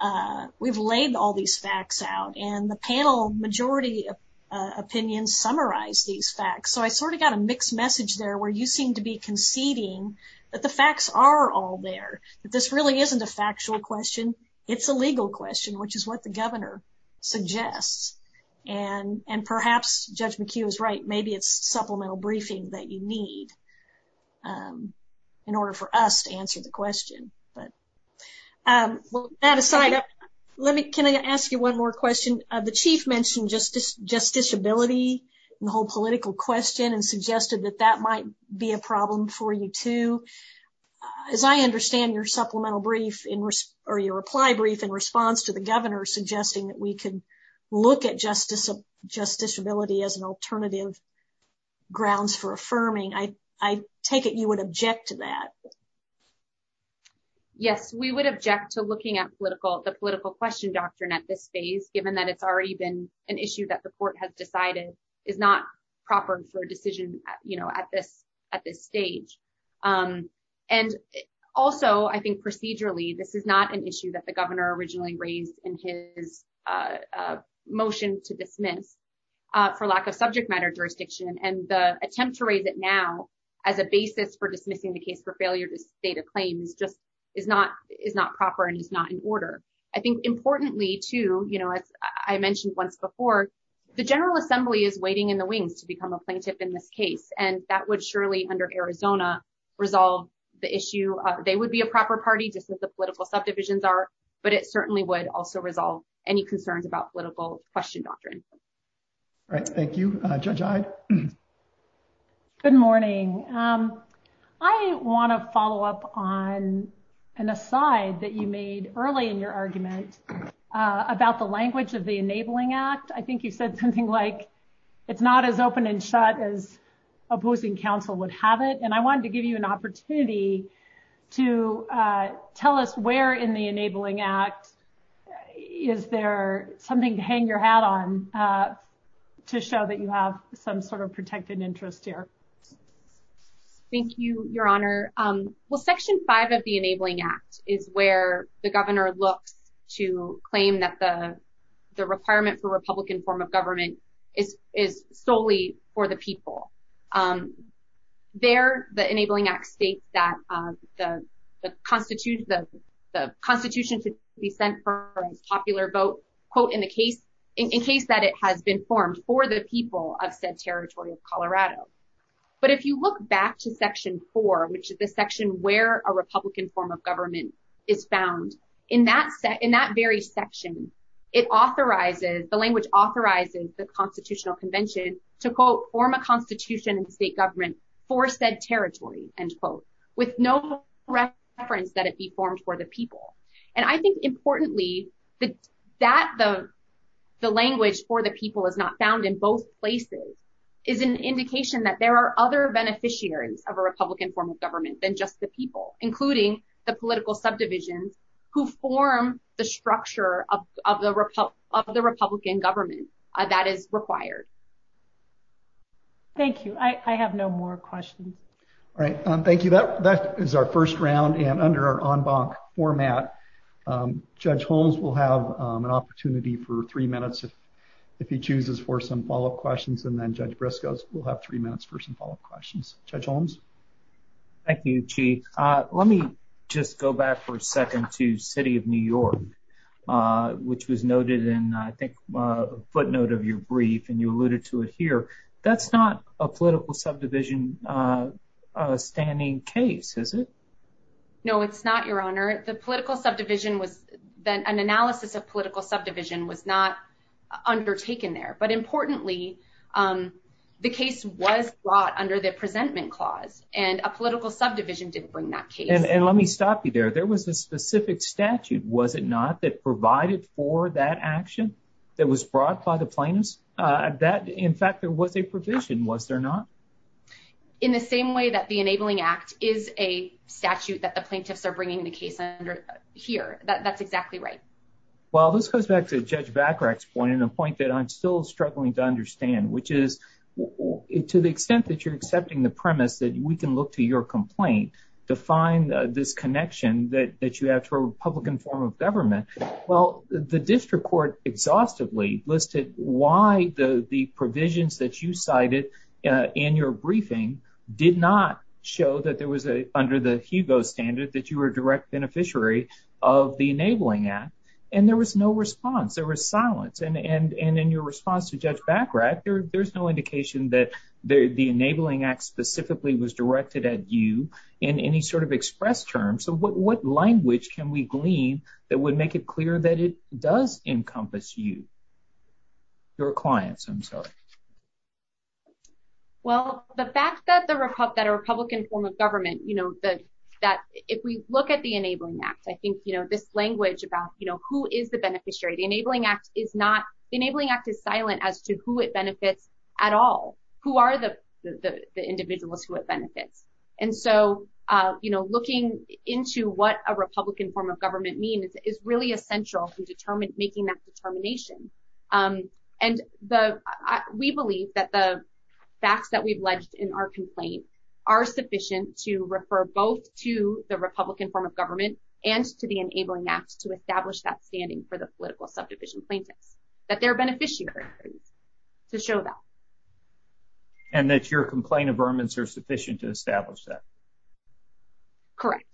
Uh, we've laid all these facts out and the panel majority of, uh, opinions summarize these facts. So I sort of got a mixed message there where you seem to be conceding that the facts are all there, that this really isn't a factual question. It's a legal question, which is what the governor suggests. And, and perhaps Judge McHugh is right. Maybe it's supplemental briefings that you need, um, in order for us to answer the question, but, um, well, that aside, let me, can I ask you one more question? Uh, the chief mentioned justice, just disability and the whole political question and suggested that that might be a problem for you too. As I understand your supplemental brief in or your reply brief in response to the governor suggesting that we can look at justice, just disability as an alternative grounds for affirming. I, I take it you would object to that. Yes, we would object to looking at political, the political question doctrine at this phase, given that it's already been an issue that the court has decided is not proper for decision, you know, at this, at this stage. Um, and also I think procedurally, this is not an issue that the governor originally raised in his, uh, uh, motion to dismiss, uh, for lack of subject matter jurisdiction and the attempt to raise it now as a basis for dismissing the case for failure to state a claim. It's just, it's not, it's not proper and it's not in order. I think importantly to, you know, as I mentioned once before, the general assembly is waiting in the wings to become a plaintiff in this case. And that would surely under Arizona resolve the issue. They would be a proper party just as the political subdivisions are, but it certainly would also resolve any concerns about political question doctrine. All right. Thank you. Good morning. Um, I want to follow up on an aside that you made early in your argument, uh, about the language of the enabling act. I think you said something like it's not as open and shut as a boothing council would have it. And I wanted to give you an opportunity to, uh, tell us where in the enabling act, is there something to hang your hat on, uh, to show that you have some sort of protected interest here? Thank you, your honor. Um, well, section five of the enabling act is where the governor looks to claim that the, the requirement for Republican form of government is, is solely for the people. Um, there, the enabling act states that, um, the constitution, the constitution to be sent for popular vote quote in a case in case that it has been formed for the people of said Colorado. But if you look back to section four, which is a section where a Republican form of government is found in that set in that very section, it authorizes the language authorizes the constitutional convention to quote form a constitution and state government for said territory and quote with no reference that it be formed for the people. And I think importantly, the, that the, the language for the people is not found in both places is an indication that there are other beneficiaries of a Republican form of government than just the people, including the political subdivisions who form the structure of, of the, of the Republican government that is required. Thank you. I have no more questions. All right. Um, thank you. That, that is our first round and under our en banc format, um, judge Holmes will have an opportunity for three minutes if he chooses for some follow-up questions and then judge Briscoe will have three minutes for some follow-up questions. Judge Holmes. Thank you, Chief. Uh, let me just go back for a second to city of New York, uh, which was noted in, I think, a footnote of your brief and you alluded to it No, it's not your honor. The political subdivision was an analysis of political subdivision was not undertaken there, but importantly, um, the case was brought under the presentment clause and a political subdivision did bring that case. And let me stop you there. There was a specific statute. Was it not that provided for that action that was brought by the plaintiffs? Uh, that in fact, there was a provision, was there not? In the same way that enabling act is a statute that the plaintiffs are bringing the case under here. That that's exactly right. Well, this goes back to judge Bacarach's point and a point that I'm still struggling to understand, which is to the extent that you're accepting the premise that we can look to your complaint to find this connection that you have to a Republican form of government. Well, the district court exhaustively listed why the provisions that you cited in your briefing did not show that there was a, under the Hugo standard that you were a direct beneficiary of the enabling act. And there was no response. There was silence. And, and, and in your response to judge Bacarach, there, there's no indication that the enabling act specifically was directed at you in any sort of express terms. So what, what language can we glean that would make it that a Republican form of government, you know, that, that if we look at the enabling act, I think, you know, this language about, you know, who is the beneficiary, the enabling act is not, enabling act is silent as to who it benefits at all, who are the, the, the individuals who would benefit. And so, uh, you know, looking into what a Republican form of government means is really essential to determine making that determination. Um, and the, uh, we believe that the facts that we've ledged in our complaint are sufficient to refer both to the Republican form of government and to the enabling act to establish that standing for the political subdivision plaintiff that they're beneficiary to show that. And that's your complaint of vermin are sufficient to establish that. Correct.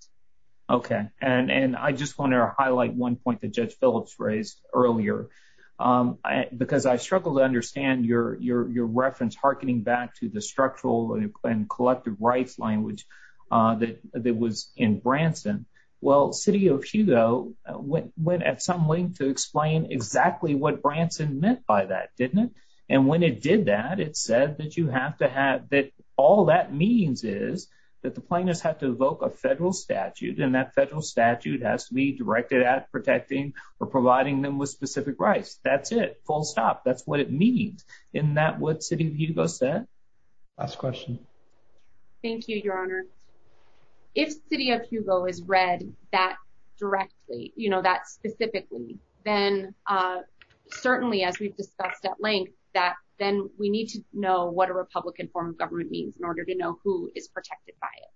Okay. And, and I just want to highlight one point Judge Phillips raised earlier. Um, I, because I struggled to understand your, your, your reference hearkening back to the structural and collective rights language, uh, that, that was in Branson. Well, city of Chico went at some length to explain exactly what Branson meant by that, didn't it? And when it did that, it said that you have to have that. All that means is that the plaintiffs have to evoke a federal statute and that federal statute has to be directed at protecting or providing them with specific rights. That's it. Full stop. That's what it means. In that what city Hugo said. Last question. Thank you, your honor. If city of Hugo is read that directly, you know, that specifically, then, uh, certainly as we've discussed at length, that then we need to know what a Republican form of government means in order to know who is protected by it.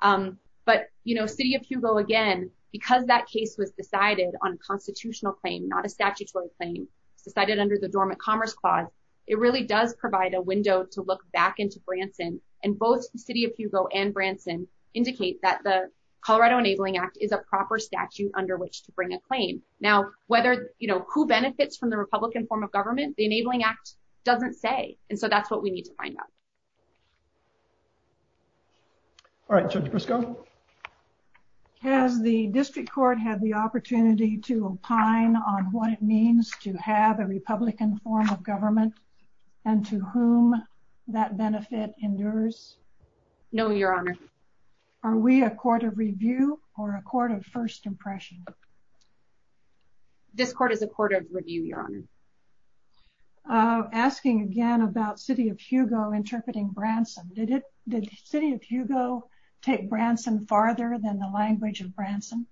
Um, but you know, city of Hugo again, because that case was decided on a constitutional claim, not a statutory claim decided under the dormant commerce clause. It really does provide a window to look back into Branson and both city of Hugo and Branson indicate that the Colorado enabling act is a proper statute under which to bring a claim. Now, whether, you know, who benefits from the Republican form of government, the enabling act doesn't say. And so that's what we need to find out. All right, Judge Crisco. Has the district court had the opportunity to opine on what it means to have a Republican form of government and to whom that benefit endures? No, your honor. Are we a court of review or a court of first impression? This court is a court of review, your honor. Uh, asking again about city of Hugo interpreting Branson. Did it, did city of Hugo take Branson farther than the language of Branson?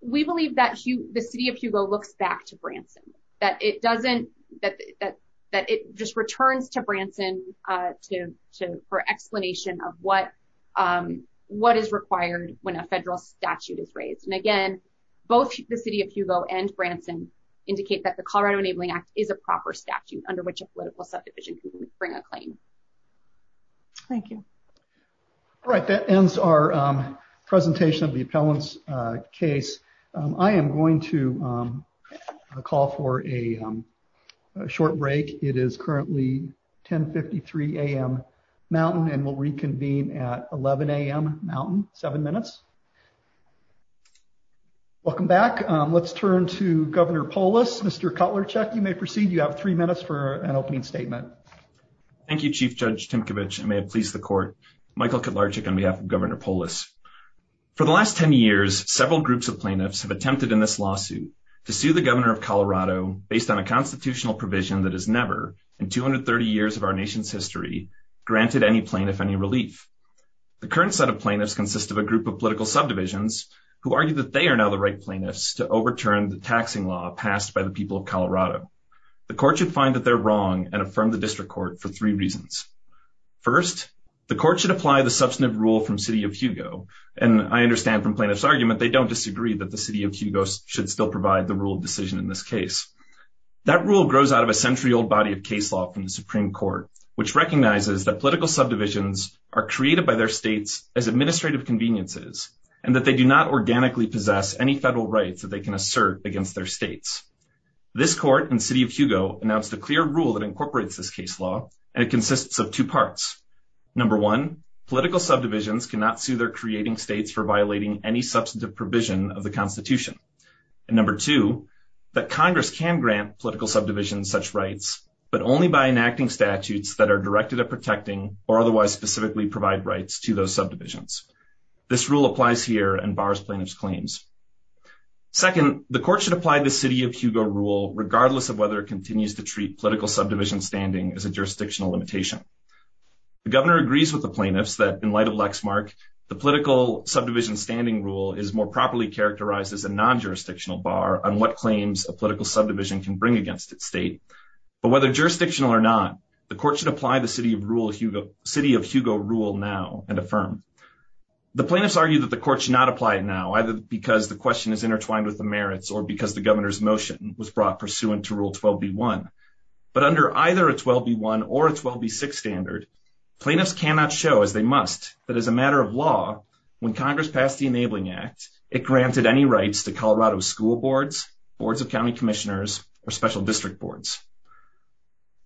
We believe that the city of Hugo looks back to Branson, that it doesn't, that, that, that it just returns to Branson, uh, to, to, for explanation of what, um, what is required when a federal statute is raised. And again, both the city of Hugo and Branson indicate that the Colorado enabling act is a proper statute under which a political subdivision can bring a claim. Thank you. All right. That ends our, um, presentation of the appellant's, uh, case. I am going to, um, call for a short break. It is currently 10 53 AM mountain and we'll reconvene at 11 AM mountain seven minutes. Welcome back. Um, let's turn to governor polis, Mr. Cutler check. You may proceed. You have three minutes for an opening statement. Thank you, chief judge Timkovich. It may have pleased the court, Michael could large chicken. We have governor polis for the last 10 years, several groups of plaintiffs have attempted in this lawsuit to see the governor of Colorado based on a constitutional provision that is never in 230 years of our nation's history, granted any plaintiff, any relief. The current set of plaintiffs consists of a group of political subdivisions who argued that they are now the right plaintiffs to overturn the taxing law passed by the people of Colorado. The court should find that they're wrong and affirm the district court for three reasons. First, the court should apply the substantive rule from city of Hugo. And I understand from plaintiff's argument, they don't disagree that the city of Hugo should still provide the rule of decision. In this case, that rule grows out of a century old body of case law from the Supreme court, which recognizes that political subdivisions are created by their states as administrative conveniences and that they do not organically possess any federal rights that they can assert against their states. This court and city of Hugo announced a clear rule that incorporates this case law, and it consists of two parts. Number one, political subdivisions cannot see they're creating states for violating any substantive provision of the constitution. And number two, that Congress can grant political subdivisions such rights, but only by enacting statutes that are directed at protecting or otherwise specifically provide rights to those subdivisions. This rule applies here and bars plaintiff's claims. Second, the court should apply the city of Hugo rule, regardless of whether it continues to treat political subdivision standing as a jurisdictional limitation. The governor agrees with the plaintiffs that in light of Lexmark, the political subdivision standing rule is more properly characterized as a non-jurisdictional bar on what claims a political subdivision can bring against its state. But jurisdictional or not, the court should apply the city of Hugo rule now and affirm. The plaintiffs argue that the court should not apply it now, either because the question is intertwined with the merits or because the governor's motion was brought pursuant to rule 12B1. But under either a 12B1 or a 12B6 standard, plaintiffs cannot show, as they must, that as a matter of law, when Congress passed the Enabling Act, it granted any rights to Colorado school boards, boards of county commissioners, or special district boards.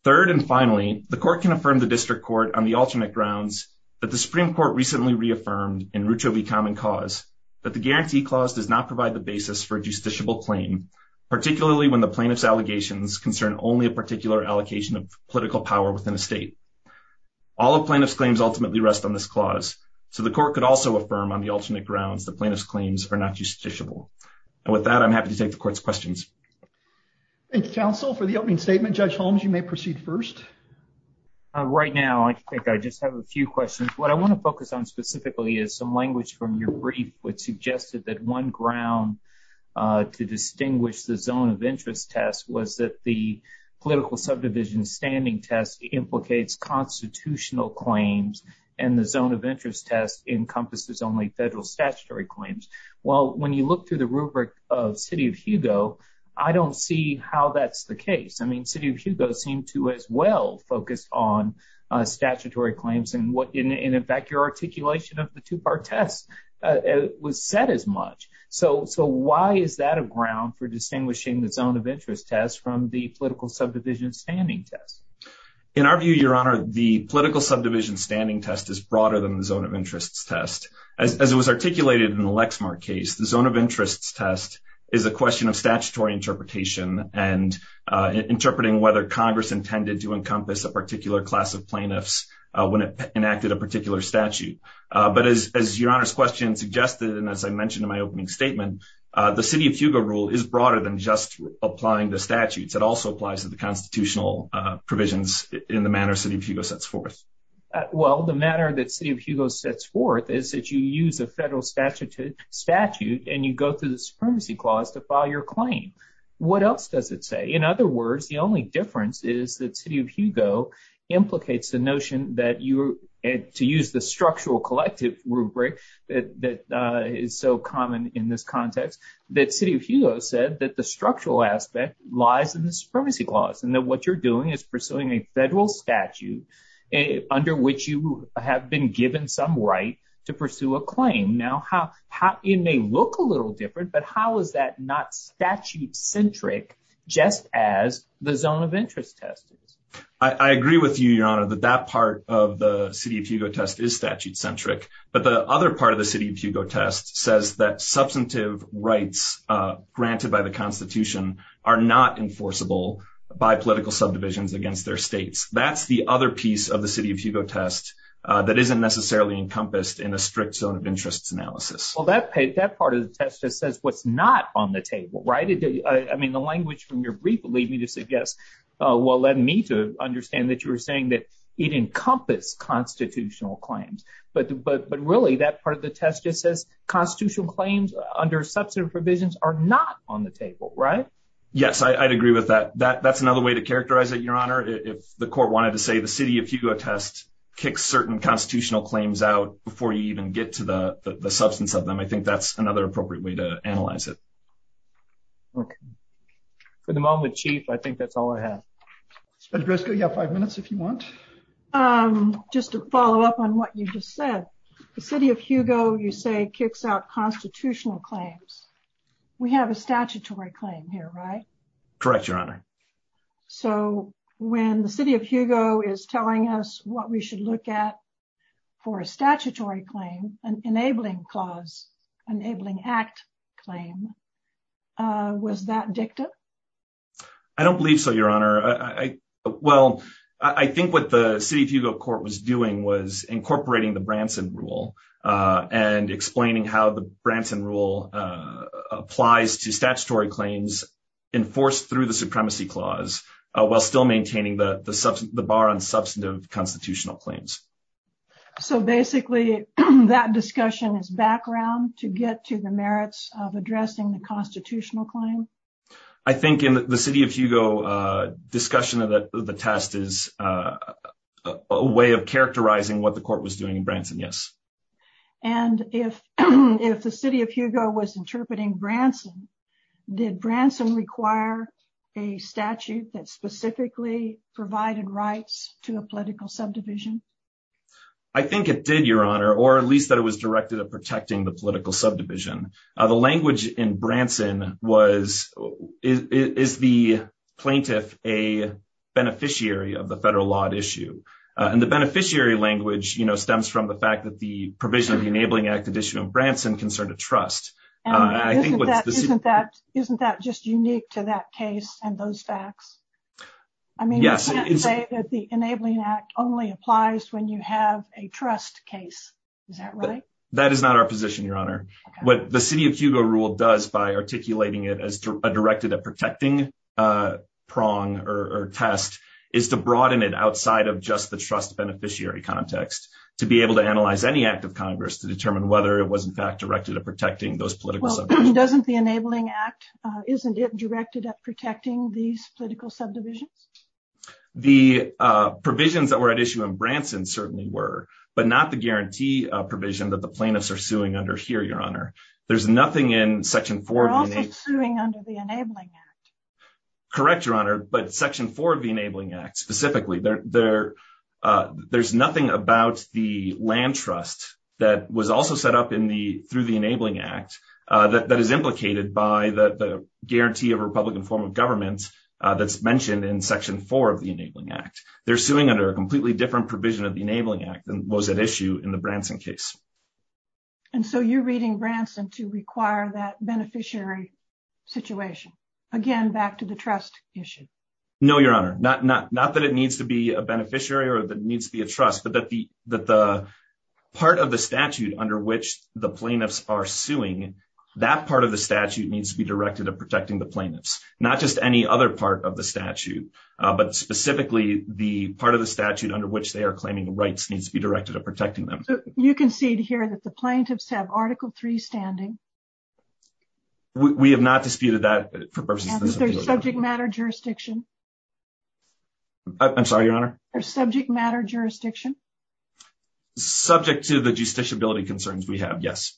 Third and finally, the court can affirm the district court on the alternate grounds that the Supreme Court recently reaffirmed in Rucho v. Common Cause that the Guarantee Clause does not provide the basis for a justiciable claim, particularly when the plaintiff's allegations concern only a particular allocation of political power within a state. All of plaintiff's claims ultimately rest on this clause, so the court could also affirm on the alternate grounds that plaintiff's claims are not justiciable. And with that, I'm happy to take the court's questions. And counsel, for the opening statement, Judge Holmes, you may proceed first. Right now, I think I just have a few questions. What I want to focus on specifically is some language from your brief, which suggested that one ground to distinguish the zone of interest test was that the political subdivision standing test implicates constitutional claims and the zone interest test encompasses only federal statutory claims. Well, when you look through the rubric of City of Hugo, I don't see how that's the case. I mean, City of Hugo seemed to as well focus on statutory claims, and in fact, your articulation of the two-part test was said as much. So why is that a ground for distinguishing the zone of interest test from the political subdivision standing test? In our view, Your Honor, the political subdivision standing test is broader than the zone of interest test. As it was articulated in the Lexmark case, the zone of interest test is a question of statutory interpretation and interpreting whether Congress intended to encompass a particular class of plaintiffs when it enacted a particular statute. But as Your Honor's question suggested, and as I mentioned in my opening statement, the City of Hugo rule is broader than just applying the statutes. It also applies to the constitutional provisions in the manner City of Hugo sets forth. Well, the manner that City of Hugo sets forth is that you use the federal statute and you go through the Supremacy Clause to file your claim. What else does it say? In other words, the only difference is that City of Hugo implicates the notion that you, to use the structural collective rubric that is so common in this context, that City of Hugo said that the structural aspect lies in the Supremacy Clause and that what you're doing is pursuing a federal statute under which you have been given some right to pursue a claim. Now, it may look a little different, but how is that not statute-centric just as the zone of interest test? I agree with you, Your Honor, that that part of the City of Hugo test is statute-centric, but the other part of the City of Hugo test says that substantive rights granted by the Constitution are not enforceable by political subdivisions against their states. That's the other piece of the City of Hugo test that isn't necessarily encompassed in a strict zone of interest analysis. Well, that part of the test that says what's not on the table, right? I mean, the language from your brief leading to suggest, well, I need to understand that you were saying that it encompasses constitutional claims, but really that part of the test just says constitutional claims under substantive provisions are not on the table, right? Yes, I'd agree with that. That's another way to characterize it, Your Honor. If the court wanted to say the City of Hugo test kicks certain constitutional claims out before you even get to the substance of them, I think that's another appropriate way to analyze it. Okay. For the moment, Chief, I think that's all I have. Driscoll, you have five minutes if you want. Just to follow up on what you just said, the City of Hugo, you say, kicks out constitutional claims. We have a statutory claim here, right? Correct, Your Honor. So when the City of Hugo is telling us what we should look at for a statutory claim, an enabling clause, enabling act claim, was that dictative? I don't believe so, Your Honor. Well, I think what the City of Hugo court was doing was incorporating the Branson rule and explaining how the Branson rule applies to statutory claims enforced through the supremacy clause while still maintaining the bar on substantive constitutional claims. So basically, that discussion is background to get to the merits of addressing the constitutional claim? I think in the City of Hugo discussion of the test is a way of characterizing what the court was doing in Branson, yes. And if the City of Hugo was interpreting Branson, did Branson require a statute that specifically provided rights to a political subdivision? I think it did, Your Honor, or at least that it was directed at protecting the political subdivision. The language in Branson was, is the plaintiff a beneficiary of the federal law at issue? And the beneficiary language, you know, stems from the fact that the provision of the enabling active issue of Branson concerned a trust. Isn't that just unique to that case and those facts? I mean, you can't say that the That is not our position, Your Honor. What the City of Hugo rule does by articulating it as directed at protecting prong or test is to broaden it outside of just the trust beneficiary context to be able to analyze any act of Congress to determine whether it was in fact directed at protecting those political subdivisions. Well, if it doesn't be enabling act, isn't it directed at protecting these political subdivisions? The provisions that were at issue in Branson certainly were, but not the guarantee provision that the plaintiffs are suing under here, Your Honor. There's nothing in section four. Correct, Your Honor, but section four of the Enabling Act specifically, there's nothing about the land trust that was also set up in the, through the Enabling Act that is implicated by the guarantee of Republican form of government that's mentioned in section four of the Enabling Act. They're suing under a completely different provision of the Enabling Act than was at issue in the Branson case. And so you're reading Branson to require that beneficiary situation. Again, back to the trust issue. No, Your Honor, not that it needs to be a beneficiary or that it needs to be a trust, but that the part of the statute under which the plaintiffs are suing, that part of the statute needs to be directed at protecting the plaintiffs, not just any other part of the statute, but specifically the part of the statute under which they are claiming rights needs to be directed at protecting them. You can see it here that the plaintiffs have article three standing. We have not disputed that provision. Is there subject matter jurisdiction? I'm sorry, Your Honor. Is there subject matter jurisdiction? Subject to the justiciability concerns we have, yes.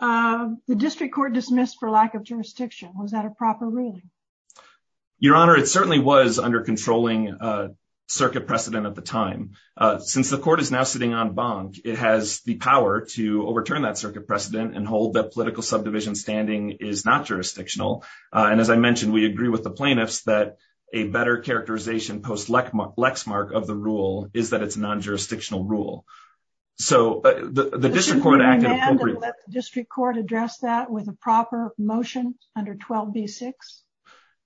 The district court dismissed for lack of jurisdiction. Was that a proper ruling? Your Honor, it certainly was under controlling circuit precedent at the time. Since the court is now sitting on bond, it has the power to overturn that circuit precedent and hold that political subdivision standing is not jurisdictional. And as I mentioned, we agree with the plaintiffs that a better characterization post-lexmark of the rule is that it's a non-jurisdictional rule. So the district court addressed that with a proper motion under 12B6?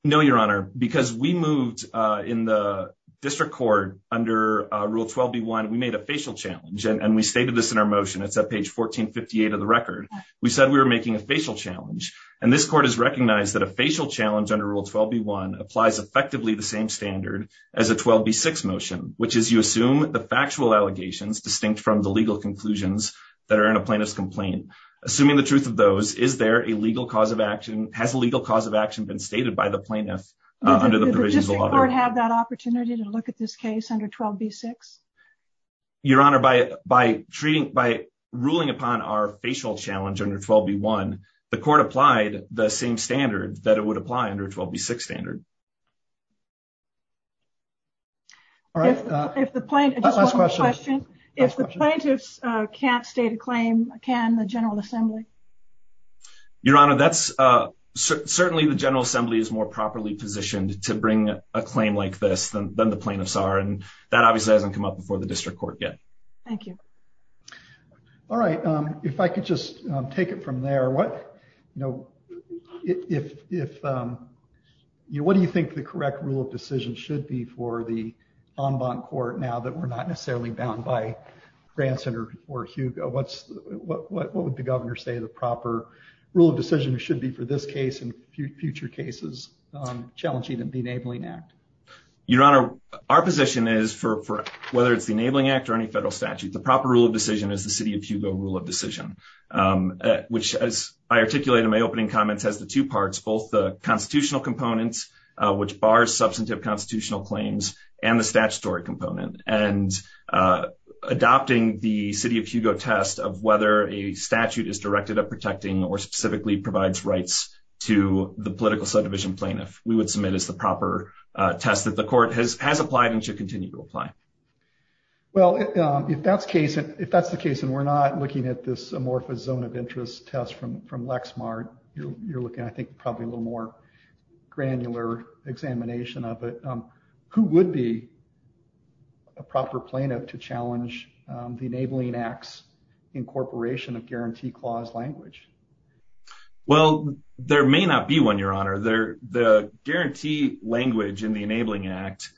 No, Your Honor, because we moved in the district court under rule 12B1, we made a facial challenge, and we stated this in our motion. It's at page 1458 of the record. We said we were making a facial challenge. And this court has recognized that a facial challenge under rule 12B1 applies effectively the same standard as a 12B6 motion, which is you assume the factual allegations distinct from the legal conclusions that are in a plaintiff's complaint. Assuming the truth of those, is there a legal cause of action? Has a legal cause of action been stated by the plaintiff under the provisions of law? Did the district court have that opportunity to look at this case under 12B6? Your Honor, by ruling upon our facial challenge under 12B1, the court applied the same standard that it would apply under 12B6 standard. Last question. If the plaintiff can't state a claim, can the General Assembly? Your Honor, certainly the General Assembly is more properly positioned to bring a claim like this than the plaintiffs are, and that obviously hasn't come up before the district court yet. Thank you. All right. If I could just take it from there. What do you think the correct rule of decision should be for the en banc court now that we're not necessarily bound by Branson or Hugo? What would the governor say the proper rule of decision should be for this case and future cases challenging the Benabling Act? Your Honor, our position is for whether it's the Enabling Act or any federal statute, the proper rule of decision is the City of Hugo rule of decision, which, as I articulated in my opening comments, has the two parts, both the constitutional components, which bars substantive constitutional claims, and the statutory component. And adopting the City of Hugo test of whether a statute is directed at protecting or specifically provides rights to the political subdivision plaintiff, we would submit as the proper test that the court has applied and should apply. Well, if that's the case and we're not looking at this amorphous zone of interest test from LexMart, you're looking at, I think, probably a little more granular examination of it, who would be a proper plaintiff to challenge the Enabling Act's incorporation of guarantee clause language? Well, there may not be one, Your Honor. The guarantee language in the Enabling Act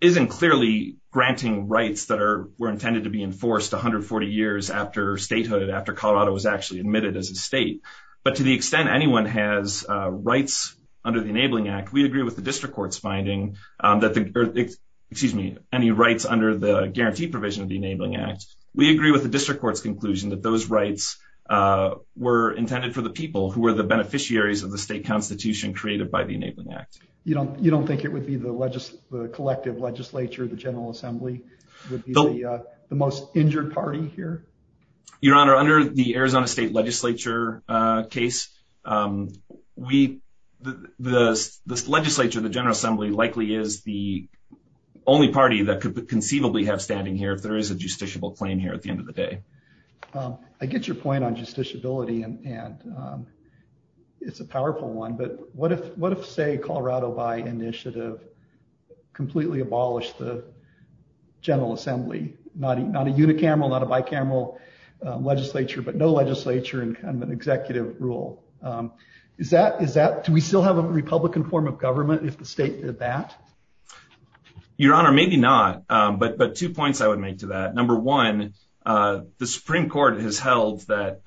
isn't clearly granting rights that were intended to be enforced 140 years after statehood, after Colorado was actually admitted as a state. But to the extent anyone has rights under the Enabling Act, we agree with the district court's finding that the, excuse me, any rights under the guarantee provision of the Enabling Act, we agree with the district court's conclusion that those rights were intended for the people who were the beneficiaries of the state constitution created by the Enabling Act. You don't think it would be the collective legislature, the General Assembly, would be the most injured party here? Your Honor, under the Arizona State Legislature case, the legislature, the General Assembly, likely is the only party that could conceivably have standing here if there is a justiciable claim here at the end of the day. I get your question. What if, say, Colorado by initiative completely abolished the General Assembly? Not a unicameral, not a bicameral legislature, but no legislature and kind of an executive rule. Is that, do we still have a Republican form of government if the state did that? Your Honor, maybe not, but two points I would make to that. Number one, the Supreme Court has held that,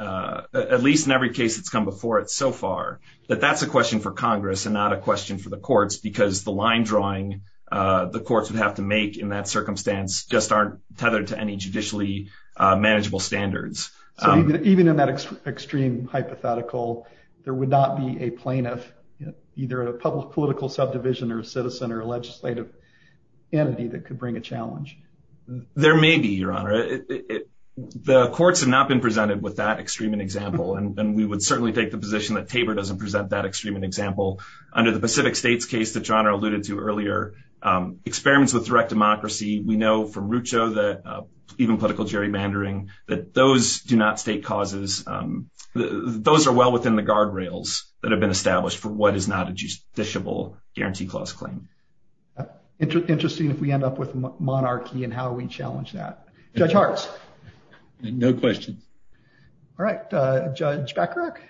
at least in every case that's come before it so far, that that's a question for Congress and not a question for the courts because the line drawing the courts would have to make in that circumstance just aren't tethered to any judicially manageable standards. Even in that extreme hypothetical, there would not be a plaintiff, either a political subdivision or a citizen or a legislative entity that could bring a challenge? There may be, Your Honor. The courts have not been presented with that extreme example, and we would certainly take the position that Tabor doesn't present that extreme example. Under the Pacific States case that Your Honor alluded to earlier, experiments with direct democracy, we know from Rucho that even political gerrymandering, that those do not state causes, those are well within the guardrails that have been established for what is not a justiciable guarantee clause claim. Interesting if we end up with Jack Kirk.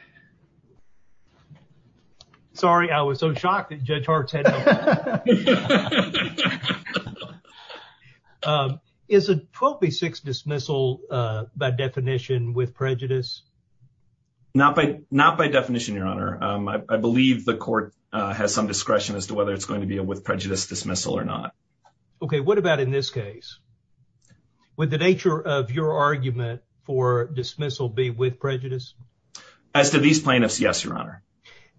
Sorry, I was so shocked that Judge Hart said that. Is a 12 v. 6 dismissal, by definition, with prejudice? Not by definition, Your Honor. I believe the court has some discretion as to whether it's going to deal with prejudice dismissal or not. Okay, what about in this case? Would the nature of your argument for dismissal be with prejudice? As to these plaintiffs, yes, Your Honor.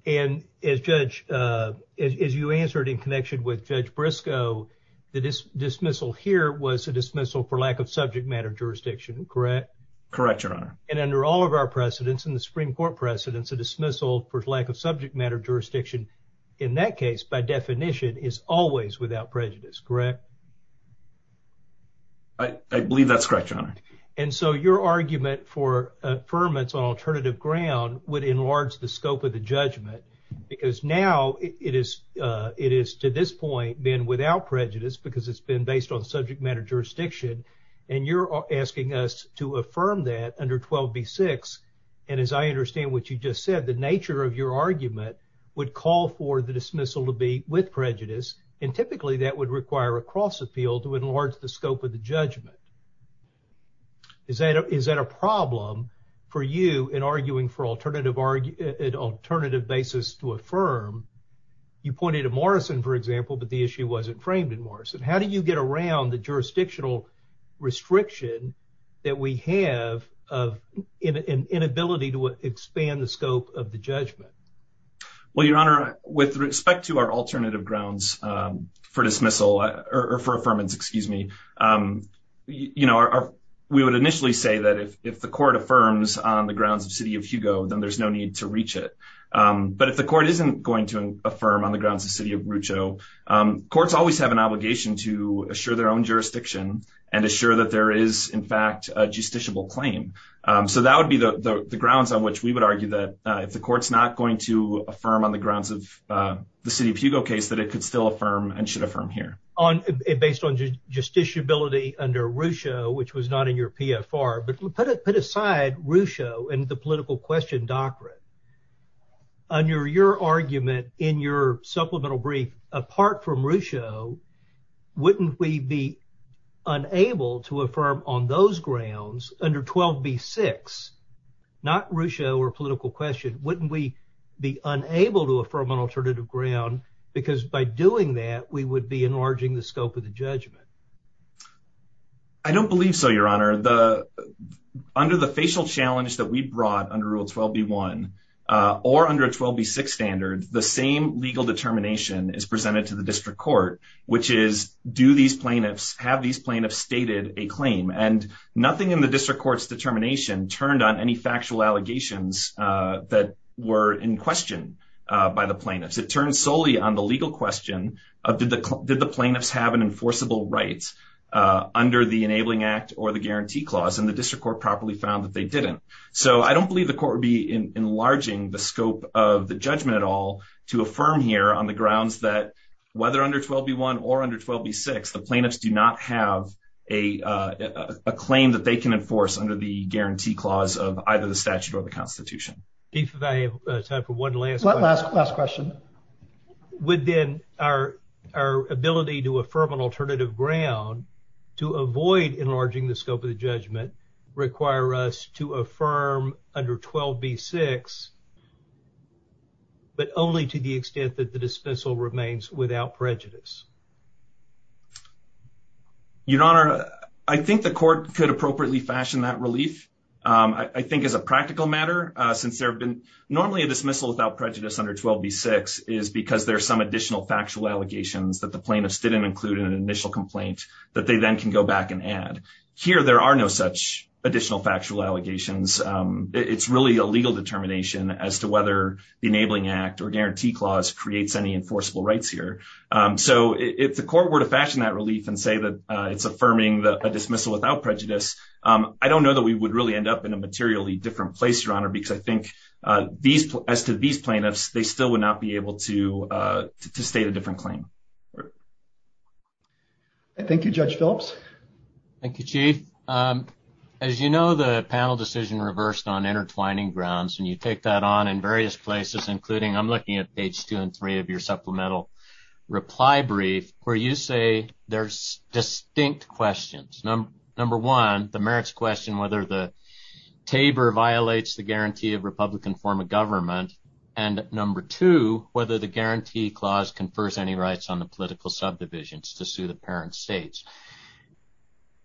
And, Judge, as you answered in connection with Judge Briscoe, the dismissal here was a dismissal for lack of subject matter jurisdiction, correct? Correct, Your Honor. And under all of our precedents, in the Supreme Court precedents, a dismissal for lack of subject matter jurisdiction, in that case, by definition, is always without prejudice, correct? I believe that's correct, Your Honor. And so your argument for affirmance on alternative ground would enlarge the scope of the judgment because now it is to this point been without prejudice because it's been based on subject matter jurisdiction. And you're asking us to affirm that under 12 v. 6. And as I understand what you just said, the nature of your argument would call for the dismissal to be with prejudice, and typically that would require a cross appeal to enlarge the scope of the judgment. Is that a problem for you in arguing for alternative basis to affirm? You pointed to Morrison, for example, but the issue wasn't framed in Morrison. How do you get around the scope of the judgment? Well, Your Honor, with respect to our alternative grounds for dismissal or for affirmance, excuse me, we would initially say that if the court affirms on the grounds of the city of Hugo, then there's no need to reach it. But if the court isn't going to affirm on the grounds of the city of Rucho, courts always have an obligation to assure their own jurisdiction and assure that there is, in fact, a justiciable claim. So that would be the if the court's not going to affirm on the grounds of the city of Hugo case, that it could still affirm and should affirm here. Based on justiciability under Rucho, which was not in your PFR, but put aside Rucho and the political question doctrine. Under your argument in your supplemental brief, apart from Rucho, wouldn't we be unable to affirm on those grounds under 12 v. 6, not Rucho or political question? Wouldn't we be unable to affirm on alternative ground? Because by doing that, we would be enlarging the scope of the judgment. I don't believe so, Your Honor. Under the facial challenge that we brought under Rule 12 v. 1 or under 12 v. 6 standards, the same legal determination is presented to the district court, which is do these plaintiffs have these plaintiffs stated a claim? And nothing in the factual allegations that were in question by the plaintiffs. It turns solely on the legal question of did the plaintiffs have an enforceable right under the Enabling Act or the Guarantee Clause, and the district court properly found that they didn't. So I don't believe the court would be enlarging the scope of the judgment at all to affirm here on the grounds that whether under 12 v. 1 or under 12 v. 6, the plaintiffs do not have a claim that they can enforce under the Guarantee Clause of either the statute or the Constitution. I have time for one last question. Would then our ability to affirm on alternative ground to avoid enlarging the scope of the judgment require us to affirm under 12 v. 6, but only to the extent that the dismissal remains without prejudice? Your Honor, I think the court could appropriately fashion that relief. I think as a practical matter, since there have been normally a dismissal without prejudice under 12 v. 6 is because there's some additional factual allegations that the plaintiffs didn't include in an initial complaint that they then can go back and add. Here there are no such additional factual allegations. It's really a legal determination as to whether the Enabling Act or Guarantee Clause creates any enforceable rights here. So if the court were to fashion that relief and say that it's affirming a dismissal without prejudice, I don't know that we would really end up in a materially different place, Your Honor, because I think as to these plaintiffs, they still would not be able to state a different claim. Thank you, Judge Phillips. Thank you, Chief. As you know, the panel decision reversed on intertwining grounds, and you take that on in various places, including I'm looking at page two and three of your supplemental reply brief, where you say there's distinct questions. Number one, the merits question whether the TABOR violates the guarantee of Republican form of government, and number two, whether the Guarantee Clause confers any rights on the political subdivisions to suit apparent states.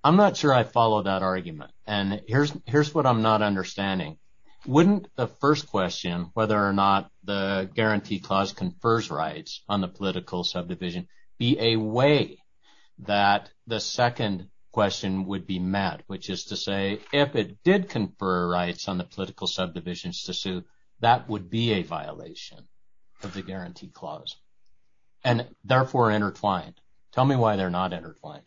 I'm not sure I follow that argument, and here's what I'm not understanding. Wouldn't the first question, whether or not the Guarantee Clause confers rights on the political subdivision, be a way that the second question would be met, which is to say, if it did confer rights on the political subdivisions to suit, that would be a violation of the Guarantee Clause, and therefore intertwined. Tell me why they're not intertwined.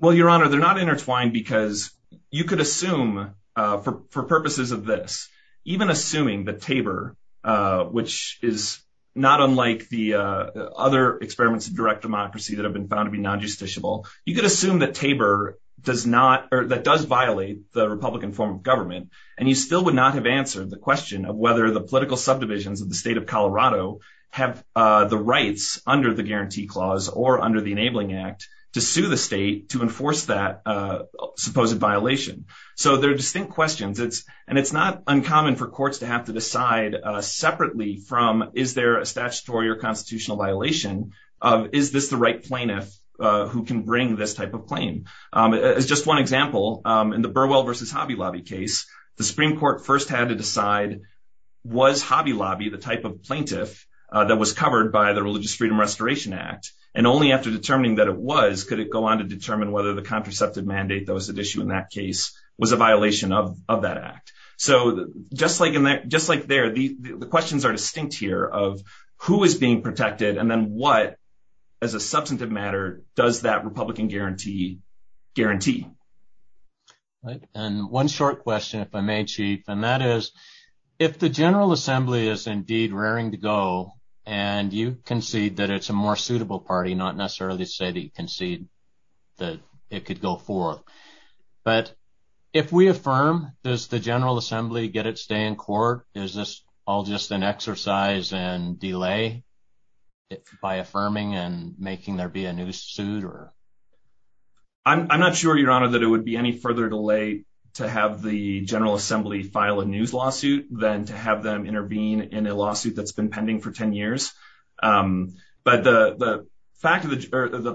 Well, Your Honor, they're not intertwined because you could assume, for purposes of this, even assuming that TABOR, which is not unlike the other experiments of direct democracy that have been found to be non-justiciable, you could assume that TABOR does not, or that does violate the Republican form of government, and you still would not have answered the question of whether the political subdivisions of the state of Colorado have the rights under the Guarantee Clause or under the Enabling Act to sue the state to enforce that supposed violation. So they're distinct questions, and it's not uncommon for courts to have to decide separately from, is there a statutory or constitutional violation of, is this the right plaintiff who can bring this type of claim? Just one example, in the Burwell versus Hobby Lobby case, the Supreme Court first had to decide, was Hobby Lobby the type of plaintiff that was covered by the Religious Freedom Restoration Act? And only after determining that it was could it go on to determine whether the contraceptive mandate that was at issue in that case was a violation of that act. So just like there, the questions are distinct here of who is being protected, and then what, as a substantive matter, does that Republican guarantee guarantee? And one short question, if I may, Chief, and that is, if the General Assembly is indeed raring to go, and you concede that it's a more suitable party, not necessarily say that you If we affirm, does the General Assembly get its day in court? Is this all just an exercise and delay by affirming and making there be a new suit? I'm not sure, Your Honor, that it would be any further delay to have the General Assembly file a new lawsuit than to have them intervene in a lawsuit that's been pending for 10 years. But the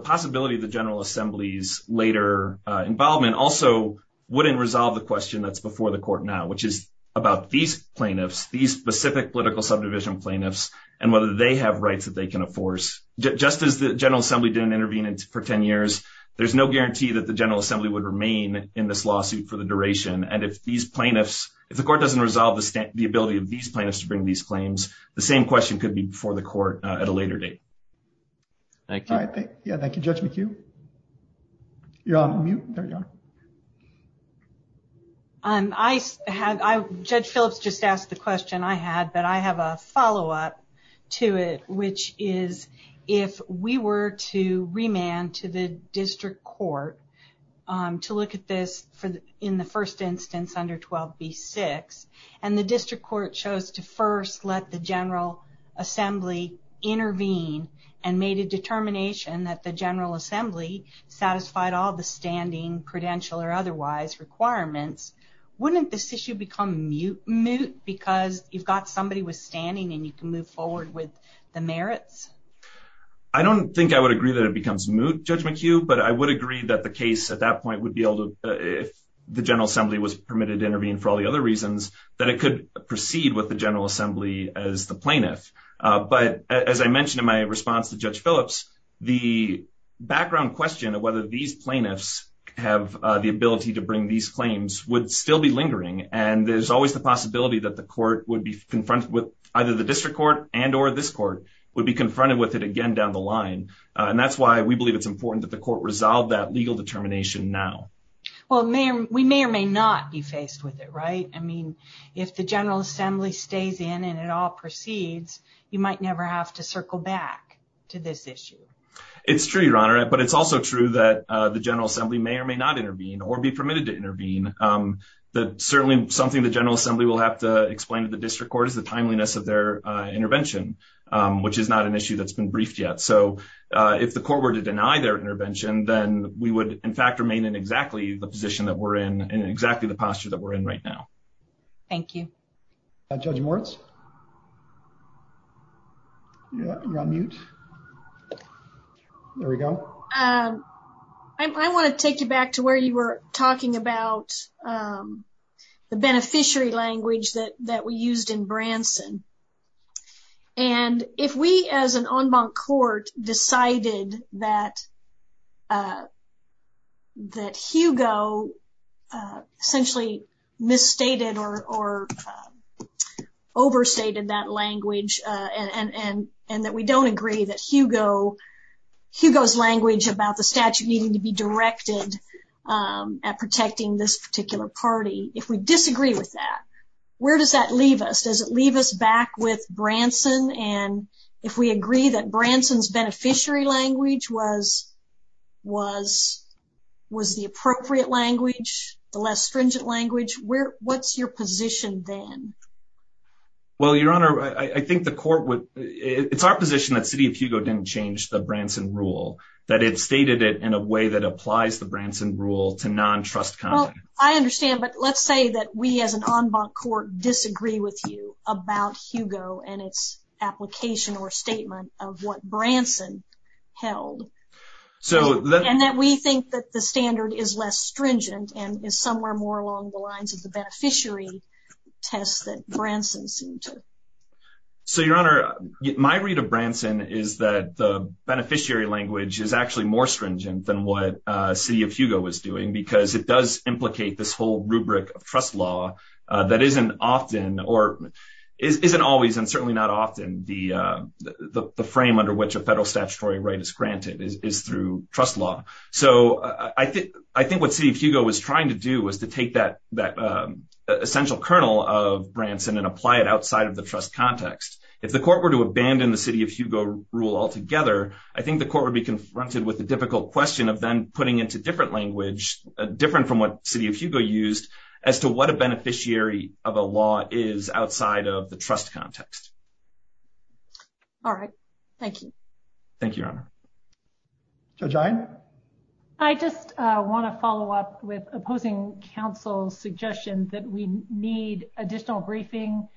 possibility of the General Assembly's involvement also wouldn't resolve the question that's before the court now, which is about these plaintiffs, these specific political subdivision plaintiffs, and whether they have rights that they can enforce. Just as the General Assembly didn't intervene for 10 years, there's no guarantee that the General Assembly would remain in this lawsuit for the duration. And if these plaintiffs, if the court doesn't resolve the ability of these plaintiffs to bring these claims, the same question could be before the court at a later date. Thank you. Thank you, Judge McHugh. You're on mute. There you go. Judge Phillips just asked the question I had, but I have a follow-up to it, which is if we were to remand to the district court to look at this in the first instance under 12b-6, and the district court chose to first let the General Assembly intervene and made a determination that the General Assembly satisfied all the standing credential or otherwise requirements, wouldn't this issue become moot because you've got somebody with standing and you can move forward with the merits? I don't think I would agree that it becomes moot, Judge McHugh, but I would agree that the case at that point would be able to, if the General Assembly was permitted to intervene for all the other reasons, that it could proceed with the General Assembly as the plaintiff. But as I mentioned in my response to Judge Phillips, the background question of whether these plaintiffs have the ability to bring these claims would still be lingering, and there's always the possibility that the court would be confronted with, either the district court and or this court, would be confronted with it again down the line. And that's why we believe it's important that the court resolve that legal determination now. Well, we may or may not be faced with it, right? I mean, if the General Assembly stays in and it all proceeds, you might never have to circle back to this issue. It's true, Your Honor, but it's also true that the General Assembly may or may not intervene or be permitted to intervene. Certainly something the General Assembly will have to explain to the district court is the timeliness of their intervention, which is not an issue that's been briefed yet. So if the court were to deny their intervention, then we would, in fact, remain in exactly the position that we're in, in exactly the posture that we're in right now. Thank you. Judge Moritz? You're on mute. There we go. I want to take you back to where you were talking about the beneficiary language that we used in Branson. And if we, as an en banc court, decided that that Hugo essentially misstated or overstated that language and that we don't agree that Hugo, Hugo's language about the statute needing to be directed at protecting this particular party, if we disagree with that, where does that leave us? Does it leave us back with Branson? And if we agree that Branson's beneficiary language was the appropriate language, the less stringent language, what's your position then? Well, Your Honor, I think it's our position that City of Hugo didn't change the Branson rule, that it stated it in a way that applies the Branson rule to non-trust conduct. I understand, but let's say that we, as an en banc court, disagree with you about Hugo and its application or statement of what Branson held. And that we think that the standard is less stringent and is somewhere more along the lines of the beneficiary test that Branson sued to. So, Your Honor, my read of Branson is that the beneficiary language is actually more stringent than what City of Hugo was doing because it does implicate this whole rubric of trust law that isn't often or isn't always, and certainly not often, the frame under which a federal statutory right is granted is through trust law. So, I think what City of Hugo was trying to do is to take that essential kernel of Branson and apply it outside of the trust context. If the court were to abandon the City of Hugo rule altogether, I think the court would be confronted with the difficult question of then putting into different language, different from what City of Hugo used, as to what a beneficiary of a law is outside of the trust context. All right. Thank you. Thank you, Your Honor. Judge Iron? I just want to follow up with opposing counsel's suggestions that we need additional briefing,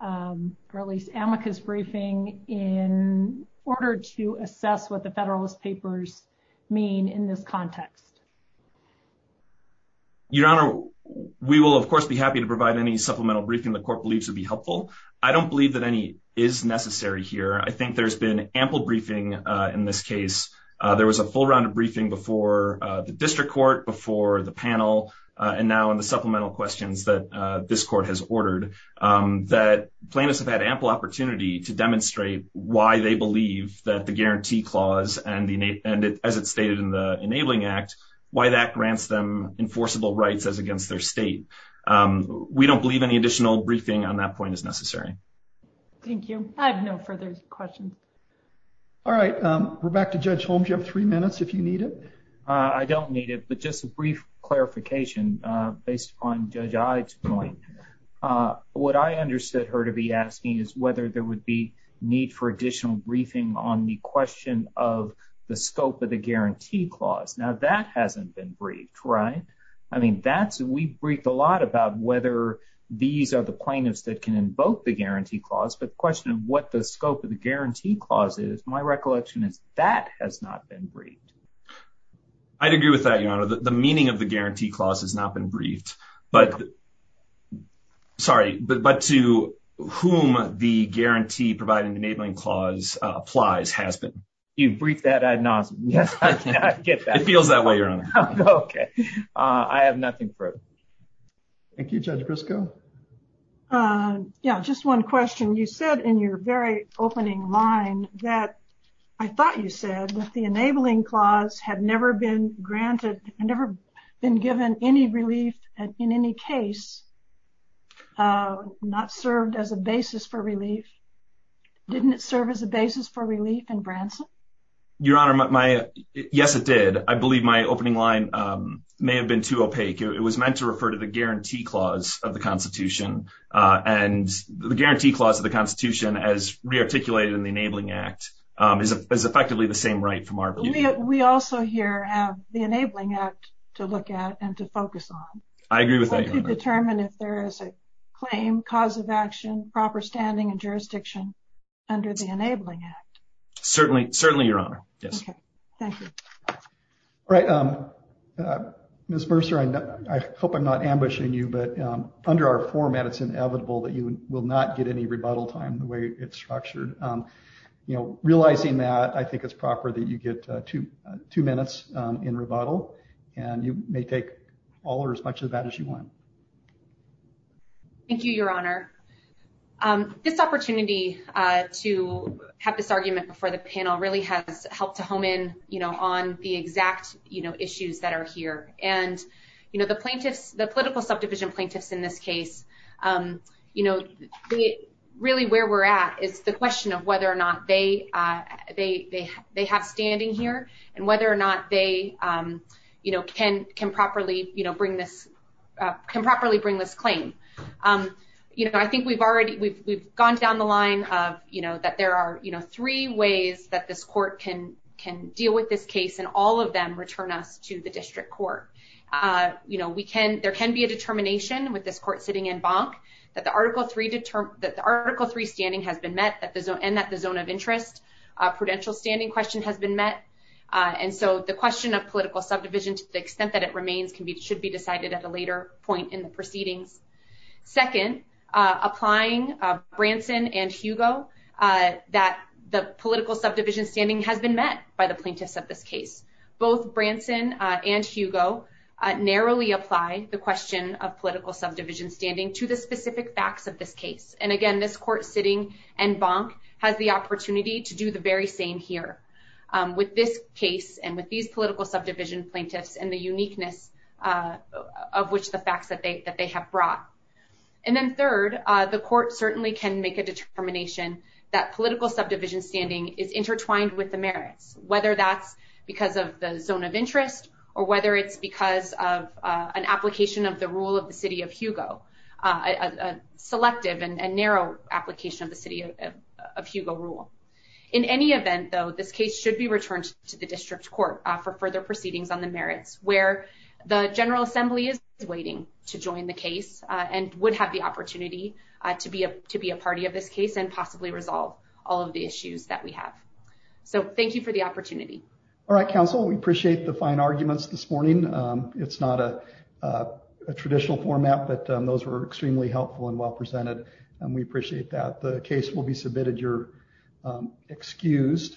or at least amicus briefing, in order to assess what the Federalist Papers mean in this context. Your Honor, we will, of course, be happy to provide any supplemental briefing the court believes would be helpful. I don't believe that any is necessary here. I think there's been ample briefing in this case. There was a full round of briefing before the district court, before the panel, and now in the supplemental questions that this court has ordered, that plaintiffs have had ample opportunity to demonstrate why they believe that the Guarantee Clause, and as it stated in the Enabling Act, why that grants them enforceable rights as against their state. We don't believe any additional briefing on that point is necessary. Thank you. I have no further questions. All right. We're back to Judge Holmes. You have three minutes if you need it. I don't need it, but just a brief clarification based on Judge Ives' point. What I understood her to be asking is whether there would be need for additional briefing on the question of the scope of the Guarantee Clause. Now, that hasn't been briefed, right? I mean, that's, we've briefed a lot about whether these are the claimants that can invoke the Guarantee Clause, but the question of what the scope of the Guarantee Clause is, my recollection is that has not been briefed. I'd agree with that, Your Honor. The meaning of the Guarantee Clause has not been briefed, but, sorry, but to whom the Guarantee Providing Enabling Clause applies has been. You've briefed that, I'd not get that. It feels that way, Your Honor. Okay. I have nothing further. Thank you, Judge Briscoe. Yeah, just one question. You said in your very opening line that, I thought you said, that the Enabling Clause had never been granted, never been given any relief in any case, not served as a basis for relief. Didn't it serve as a basis for relief in Branson? Your Honor, my, yes, it did. I believe my opening line may have been too opaque. It was meant to refer to the Guarantee Clause of the Constitution, and the Guarantee Clause of the Constitution, as re-articulated in the Enabling Act, is effectively the same right from our view. We also here have the Enabling Act to look at and to focus on. I agree with that, Your Honor. We have to determine if there is a claim, cause of action, proper standing and jurisdiction under the Enabling Act. Certainly, Your Honor. Yes. Okay. Thank you. All right. Ms. Mercer, I hope I'm not ambushing you, but under our format, it's inevitable that you will not get any rebuttal time the way it's structured. Realizing that, I think it's proper that you get two minutes in rebuttal, and you may take all or as much of that as you want. Thank you, Your Honor. This opportunity to have this argument before the panel really has helped to hone in on the exact issues that are here. The political subdivision plaintiffs in this case, really where we're at is the question of whether or not they have standing here, and whether or not they can properly bring this claim. I think we've gone down the line of that there are three ways that this court can deal with this case and all of them return us to the district court. You know, there can be a determination with this court sitting in bonk that the Article III standing has been met and that the zone of interest prudential standing question has been met. And so, the question of political subdivision to the extent that it remains should be decided at a later point in the proceeding. Second, applying Branson and Hugo, that the political subdivision standing has been met by the plaintiffs of this case. Both Branson and Hugo narrowly applied the question of political subdivision standing to the specific facts of this case. And again, this court sitting in bonk has the opportunity to do the very same here with this case and with these political subdivision plaintiffs and the uniqueness of which the facts that they have brought. And then third, the court certainly can make a determination that political subdivision standing is intertwined with the merits, whether that's because of the zone of interest or whether it's because of an application of the rule of the city of Hugo, a selective and narrow application of the city of Hugo rule. In any event, though, this case should be returned to the district court for further proceedings on the merits where the General Assembly is waiting to join the case and would have the opportunity to be a party of this case and possibly resolve all of the issues that we have. So thank you for the opportunity. All right, counsel, we appreciate the fine arguments this morning. It's not a traditional format, but those were extremely helpful and well presented, and we appreciate that. The case will be submitted. You're excused.